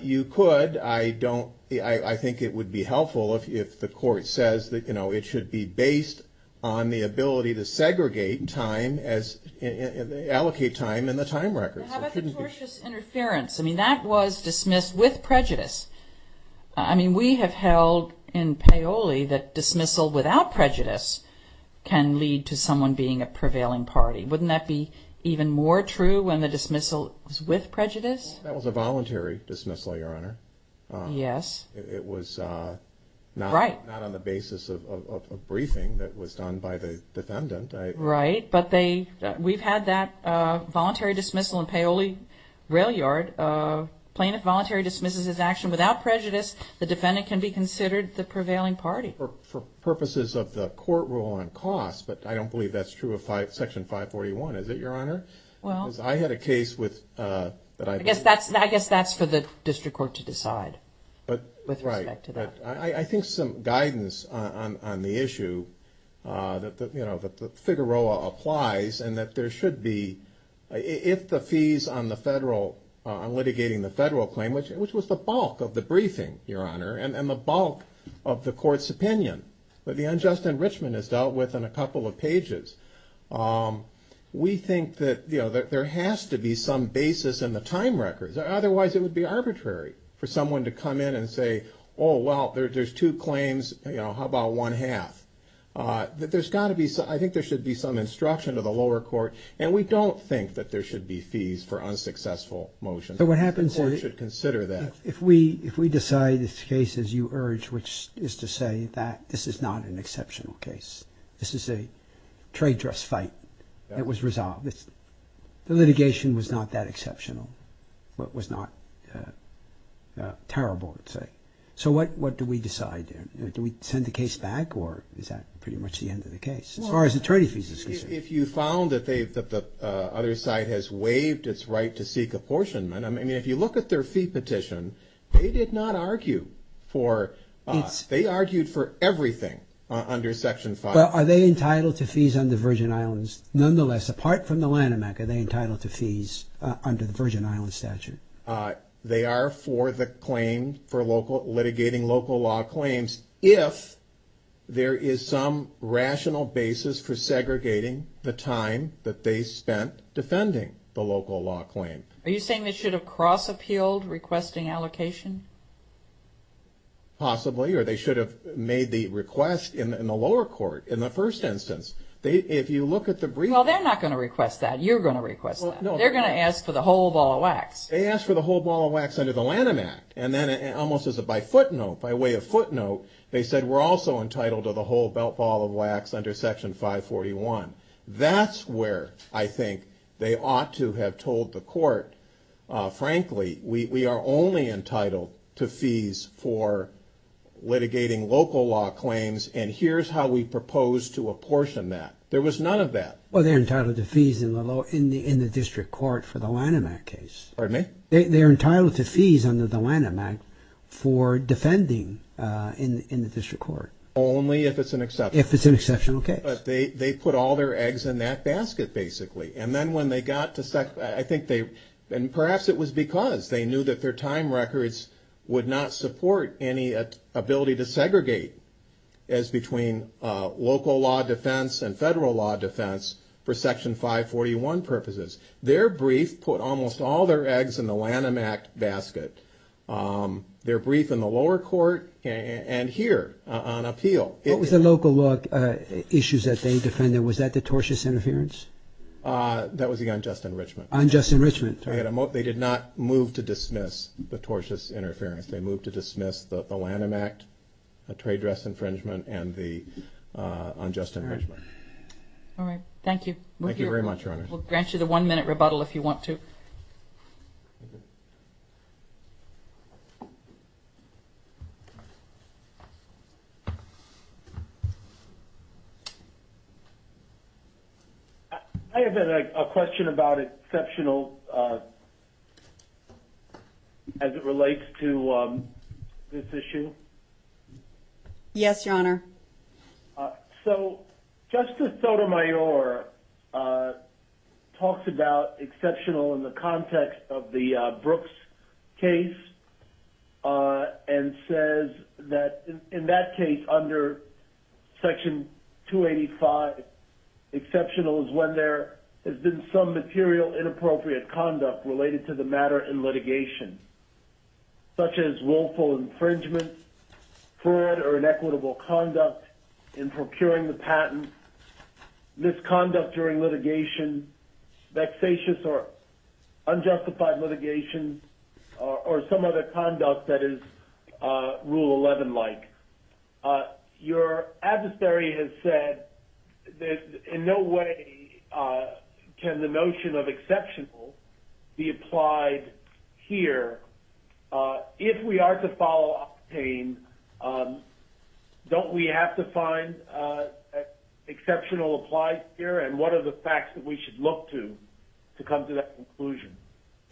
You could. I think it would be helpful if the court says that, you know, it should be based on the ability to segregate time, allocate time in the time record. How about fictitious interference? I mean, that was dismissed with prejudice. I mean, we have held in Paoli that dismissal without prejudice can lead to someone being a prevailing party. Wouldn't that be even more true when the dismissal was with prejudice? That was a voluntary dismissal, Your Honor. Yes. It was not on the basis of briefing that was done by the defendant. Right, but we've had that voluntary dismissal in Paoli Railyard. Plaintiff voluntary dismisses his action without prejudice. The defendant can be considered the prevailing party. For purposes of the court rule on costs, but I don't believe that's true of Section 541, is it, Your Honor? Well. Because I had a case with. I guess that's for the district court to decide. Right. With respect to that. I think some guidance on the issue, you know, that the Figueroa applies and that there should be, if the fees on the federal, on litigating the federal claim, which was the bulk of the briefing, Your Honor, and the bulk of the court's opinion, the unjust enrichment is dealt with in a couple of pages. We think that there has to be some basis in the time records. Otherwise, it would be arbitrary for someone to come in and say, oh, well, there's two claims. How about one half? There's got to be. I think there should be some instruction of the lower court. And we don't think that there should be fees for unsuccessful motions. The court should consider that. If we decide this case, as you urge, which is to say that this is not an exceptional case, this is a trade dress fight that was resolved, the litigation was not that exceptional, but was not terrible, let's say. So what do we decide then? Do we send the case back, or is that pretty much the end of the case, as far as the treaty fees are concerned? If you found that the other side has waived its right to seek apportionment, I mean, if you look at their fee petition, they did not argue for, they argued for everything under Section 5. Are they entitled to fees under Virgin Islands? Nonetheless, apart from the Lanham Act, are they entitled to fees under the Virgin Islands statute? They are for the claim, for litigating local law claims, if there is some rational basis for segregating the time that they spent defending the local law claim. Are you saying they should have cross-appealed requesting allocation? Possibly. Or they should have made the request in the lower court, in the first instance. If you look at the briefcase... Well, they're not going to request that. You're going to request that. They're going to ask for the whole ball of wax. They asked for the whole ball of wax under the Lanham Act, and then almost as a by footnote, by way of footnote, they said we're also entitled to the whole ball of wax under Section 541. That's where I think they ought to have told the court, frankly, we are only entitled to fees for litigating local law claims, and here's how we propose to apportion that. There was none of that. Well, they're entitled to fees in the district court for the Lanham Act case. Pardon me? They're entitled to fees under the Lanham Act for defending in the district court. Only if it's an exception. If it's an exception, okay. But they put all their eggs in that basket, basically, and then when they got to... and perhaps it was because they knew that their time records would not support any ability to segregate as between local law defense and federal law defense for Section 541 purposes. Their brief put almost all their eggs in the Lanham Act basket. Their brief in the lower court and here on appeal. What was the local law issues that they defended? Was that the tortious interference? That was the unjust enrichment. Unjust enrichment. They did not move to dismiss the tortious interference. They moved to dismiss the Lanham Act, the trade dress infringement, and the unjust infringement. All right. Thank you. Thank you very much, Your Honors. We'll grant you the one-minute rebuttal if you want to. I have a question about exceptional as it relates to this issue. Yes, Your Honor. So Justice Sotomayor talks about exceptional in the context of the Brooks case and says that in that case under Section 285, exceptional is when there has been some material inappropriate conduct related to the matter in litigation such as willful infringement, fraud or inequitable conduct in procuring the patent, misconduct during litigation, vexatious or unjustified litigation, or some other conduct that is Rule 11-like. Your adversary has said that in no way can the notion of exceptional be applied here. If we are to follow Octane, don't we have to find exceptional applied here and what are the facts that we should look to to come to that conclusion?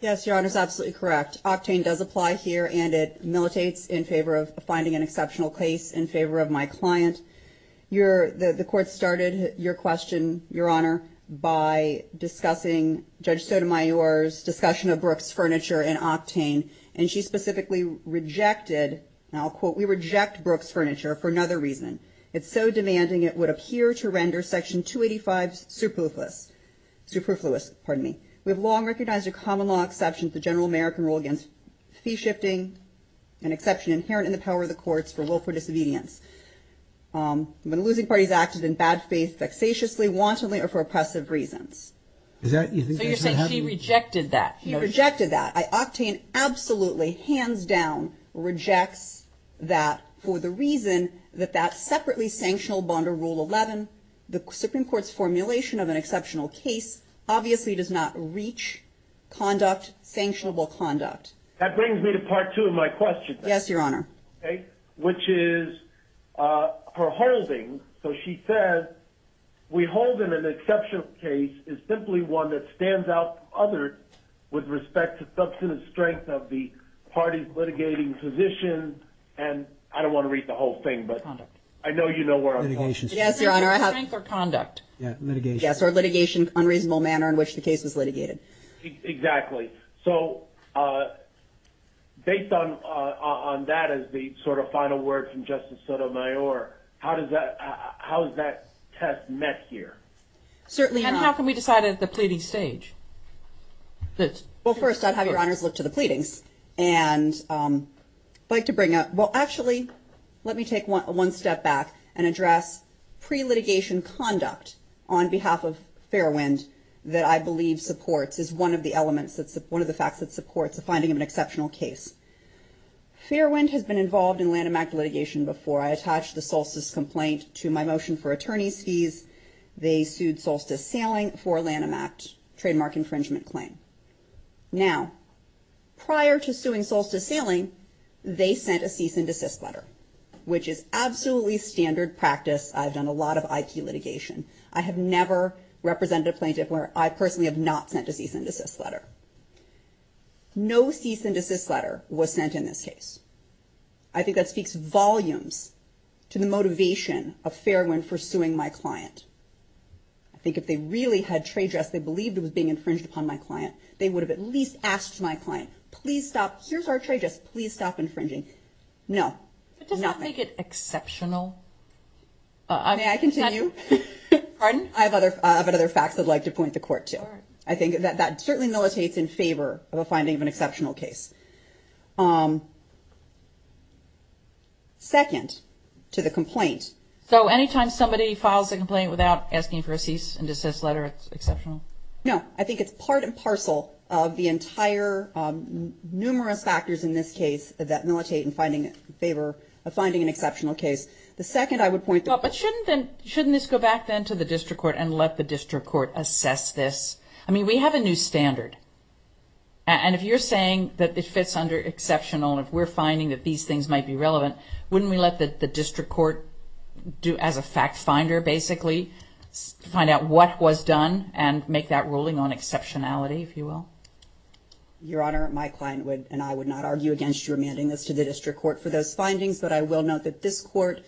Yes, Your Honor. It's absolutely correct. Octane does apply here and it militates in favor of finding an exceptional case in favor of my client. The Court started your question, Your Honor, by discussing Judge Sotomayor's discussion of Brooks furniture in Octane and she specifically rejected, and I'll quote, we reject Brooks furniture for another reason. It's so demanding it would appear to render Section 285 superfluous. We have long recognized a common law exception to the general American rule against fee shifting, an exception inherent in the power of the courts for willful disobedience. When losing parties acted in bad faith, vexatiously, wantonly, or for oppressive reasons. So you're saying she rejected that? She rejected that. Octane absolutely, hands down, rejects that for the reason that that separately sanctional bond or Rule 11, the Supreme Court's formulation of an exceptional case, obviously does not reach conduct, sanctionable conduct. That brings me to Part 2 of my question. Yes, Your Honor. Which is her holding. So she says we hold in an exceptional case is simply one that stands out from others with respect to substantive strength of the party's litigating position. And I don't want to read the whole thing, but I know you know where I'm going. Yes, Your Honor. Strength or conduct. Yes, or litigation, unreasonable manner in which the case was litigated. Exactly. So based on that as the sort of final word from Justice Sotomayor, how is that test met here? Certainly. And how can we decide at the pleading stage? Well, first, I'd have Your Honors look to the pleadings. And I'd like to bring up, well, actually, let me take one step back and address pre-litigation conduct on behalf of Fairwind that I believe supports, is one of the elements, one of the facts that supports the finding of an exceptional case. Fairwind has been involved in Lanham Act litigation before. I attached the Solstice complaint to my motion for attorney's fees. They sued Solstice Sailing for Lanham Act trademark infringement claim. Now, prior to suing Solstice Sailing, they sent a cease and desist letter, which is absolutely standard practice. I've done a lot of IQ litigation. I have never represented a plaintiff where I personally have not sent a cease and desist letter. No cease and desist letter was sent in this case. I think that speaks volumes to the motivation of Fairwind for suing my client. I think if they really had trade dress, they believed it was being infringed upon my client, they would have at least asked my client, please stop. Here's our trade dress. Please stop infringing. No, nothing. But does that make it exceptional? May I continue? Pardon? I have other facts I'd like to point the court to. I think that that certainly militates in favor of a finding of an exceptional case. Second to the complaint. So anytime somebody files a complaint without asking for a cease and desist letter, it's exceptional? No. I think it's part and parcel of the entire numerous factors in this case that militate in finding favor, finding an exceptional case. The second I would point the court to. But shouldn't this go back then to the district court and let the district court assess this? I mean, we have a new standard. And if you're saying that it fits under exceptional, if we're finding that these things might be relevant, wouldn't we let the district court do as a fact finder, basically, find out what was done and make that ruling on exceptionality, if you will? Your Honor, my client and I would not argue against remanding this to the district court for those findings, but I will note that this court,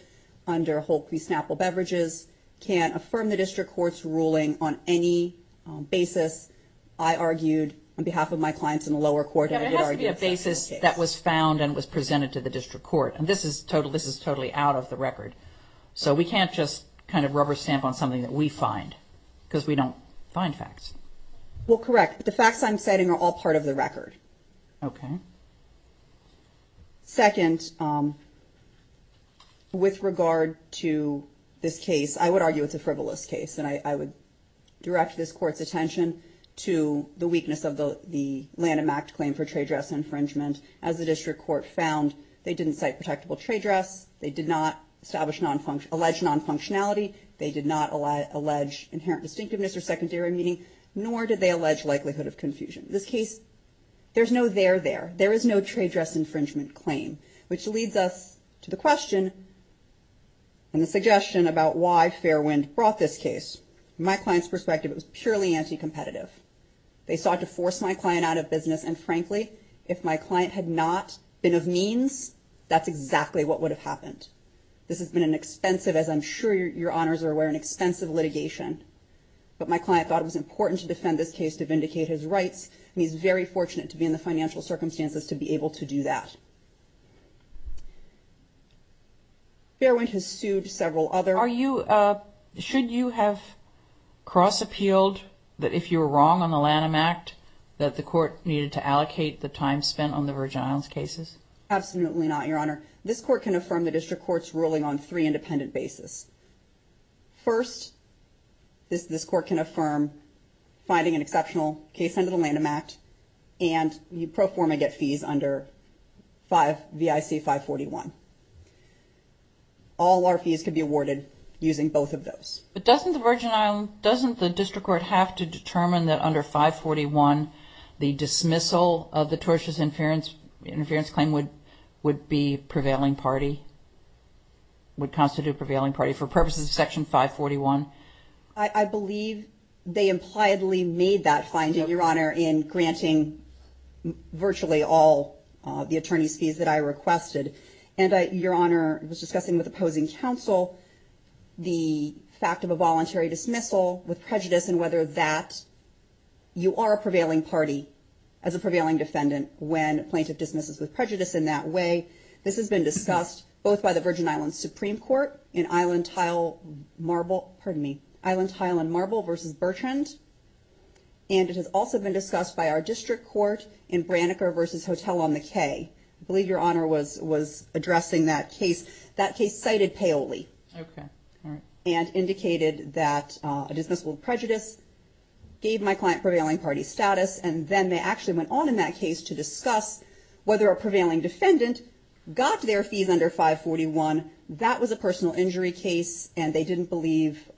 under Holt v. Snapple Beverages, can't affirm the district court's ruling on any basis I argued on behalf of my clients in the lower court. It has to be a basis that was found and was presented to the district court. And this is totally out of the record. So we can't just kind of rubber stamp on something that we find because we don't find facts. Well, correct. The facts I'm citing are all part of the record. Okay. Second, with regard to this case, I would argue it's a frivolous case, and I would direct this court's attention to the weakness of the Lanham Act claim for trade dress infringement. As the district court found, they didn't cite protectable trade dress. They did not establish non-functional, allege non-functionality. They did not allege inherent distinctiveness or secondary meaning, nor did they allege likelihood of confusion. This case, there's no there there. There is no trade dress infringement claim, which leads us to the question and the suggestion about why Fairwind brought this case. From my client's perspective, it was purely anti-competitive. They sought to force my client out of business, and frankly, if my client had not been of means, that's exactly what would have happened. This has been an expensive, as I'm sure your honors are aware, an expensive litigation. But my client thought it was important to defend this case to vindicate his rights, and he's very fortunate to be in the financial circumstances to be able to do that. Fairwind has sued several other. Are you, should you have cross-appealed that if you were wrong on the Lanham Act, that the court needed to allocate the time spent on the Virgin Islands cases? Absolutely not, your honor. This court can affirm the district court's ruling on three independent basis. First, this court can affirm finding an exceptional case under the Lanham Act, and you pro forma get fees under V.I.C. 541. All our fees could be awarded using both of those. But doesn't the Virgin Islands, doesn't the district court have to determine that under 541, the dismissal of the tortious interference claim would be prevailing party, would constitute prevailing party for purposes of Section 541? I believe they impliedly made that finding, your honor, in granting virtually all the attorney's fees that I requested. And your honor was discussing with opposing counsel the fact of a voluntary dismissal with prejudice and whether that you are a prevailing party as a prevailing defendant when a plaintiff dismisses with prejudice in that way. This has been discussed both by the Virgin Islands Supreme Court in Island Tile Marble, pardon me, Island Tile and Marble v. Bertrand, and it has also been discussed by our district court in Branniker v. Hotel on the Cay. I believe your honor was addressing that case. That case cited palely and indicated that a dismissal of prejudice gave my client prevailing party status, and then they actually went on in that case to discuss whether a prevailing defendant got their fees under 541. That was a personal injury case, and they didn't believe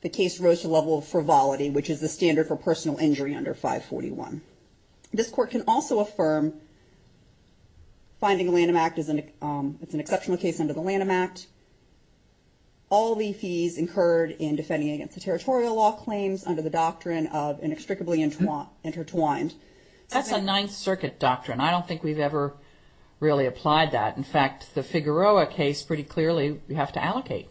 the case rose to the level of frivolity, which is the standard for personal injury under 541. This court can also affirm finding a Lanham Act is an exceptional case under the Lanham Act. All the fees incurred in defending against the territorial law claims under the doctrine of inextricably intertwined. That's a Ninth Circuit doctrine. I don't think we've ever really applied that. In fact, the Figueroa case pretty clearly we have to allocate.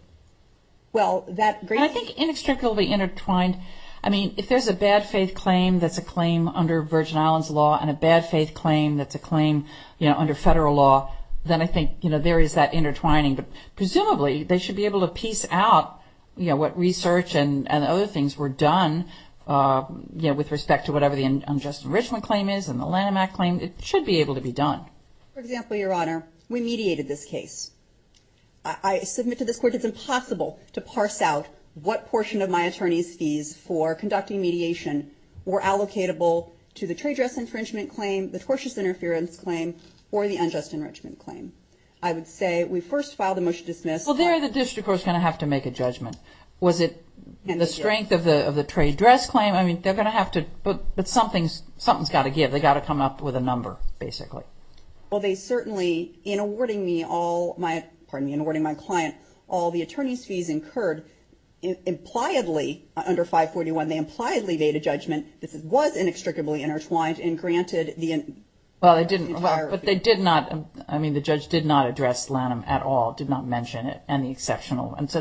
Well, that great... I think inextricably intertwined, I mean, if there's a bad faith claim that's a claim under Virgin Islands law and a bad faith claim that's a claim under federal law, then I think there is that intertwining. But presumably, they should be able to piece out, you know, what research and other things were done, you know, with respect to whatever the unjust enrichment claim is and the Lanham Act claim. It should be able to be done. For example, Your Honor, we mediated this case. I submit to this court it's impossible to parse out what portion of my attorney's fees for conducting mediation were allocatable to the trade dress infringement claim, the tortious interference claim, or the unjust enrichment claim. I would say we first file the motion to dismiss. Well, there the district court's going to have to make a judgment. Was it the strength of the trade dress claim? I mean, they're going to have to... But something's got to give. They've got to come up with a number, basically. Well, they certainly, in awarding me all my... Pardon me, in awarding my client all the attorney's fees incurred. Impliedly, under 541, they impliedly made a judgment this was inextricably intertwined and granted the entire... Well, they didn't. But they did not. I mean, the judge did not address Lanham at all, did not mention any exceptional. And so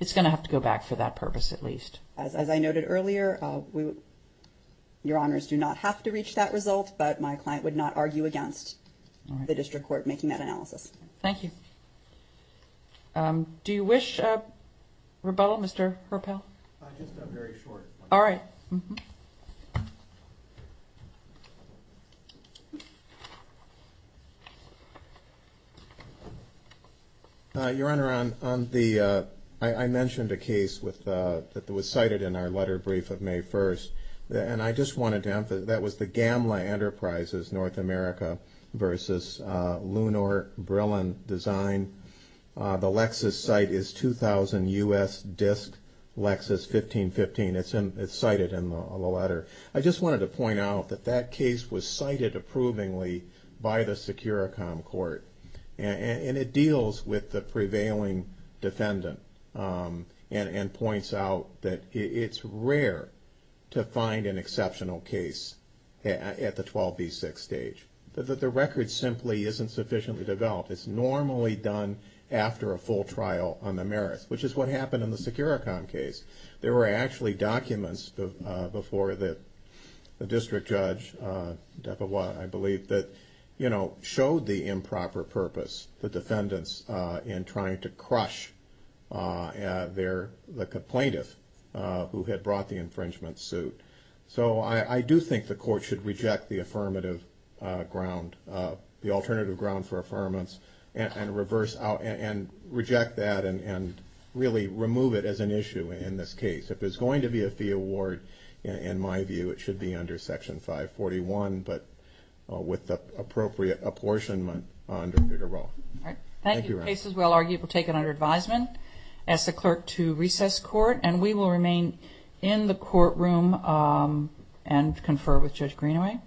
it's going to have to go back for that purpose, at least. As I noted earlier, Your Honors do not have to reach that result, but my client would not argue against the district court making that analysis. Thank you. Do you wish a rebuttal, Mr. Herpel? Just a very short one. All right. Your Honor, on the... I mentioned a case that was cited in our letter brief of May 1st, and I just wanted to emphasize that was the Gamla Enterprises, North America v. Lunor Brillen Design. The Lexus site is 2000 U.S. Disc Lexus 1515. It's cited in the letter. I just wanted to point out that that case was cited approvingly by the Securicom court, and it deals with the prevailing defendant and points out that it's rare to find an exceptional case at the 12B6 stage. The record simply isn't sufficiently developed. It's normally done after a full trial on the merits, which is what happened in the Securicom case. There were actually documents before the district judge, Depa Watt, I believe, that showed the improper purpose, the defendants, in trying to crush the complaintant who had brought the infringement suit. So I do think the court should reject the affirmative ground, the alternative ground for affirmance, and reject that and really remove it as an issue in this case. If there's going to be a fee award, in my view, it should be under Section 541, but with the appropriate apportionment under a bigger role. Thank you, Ron. Thank you. The case is well argued. We'll take it under advisement, ask the clerk to recess court, and we will remain in the courtroom and confer with Judge Greenaway.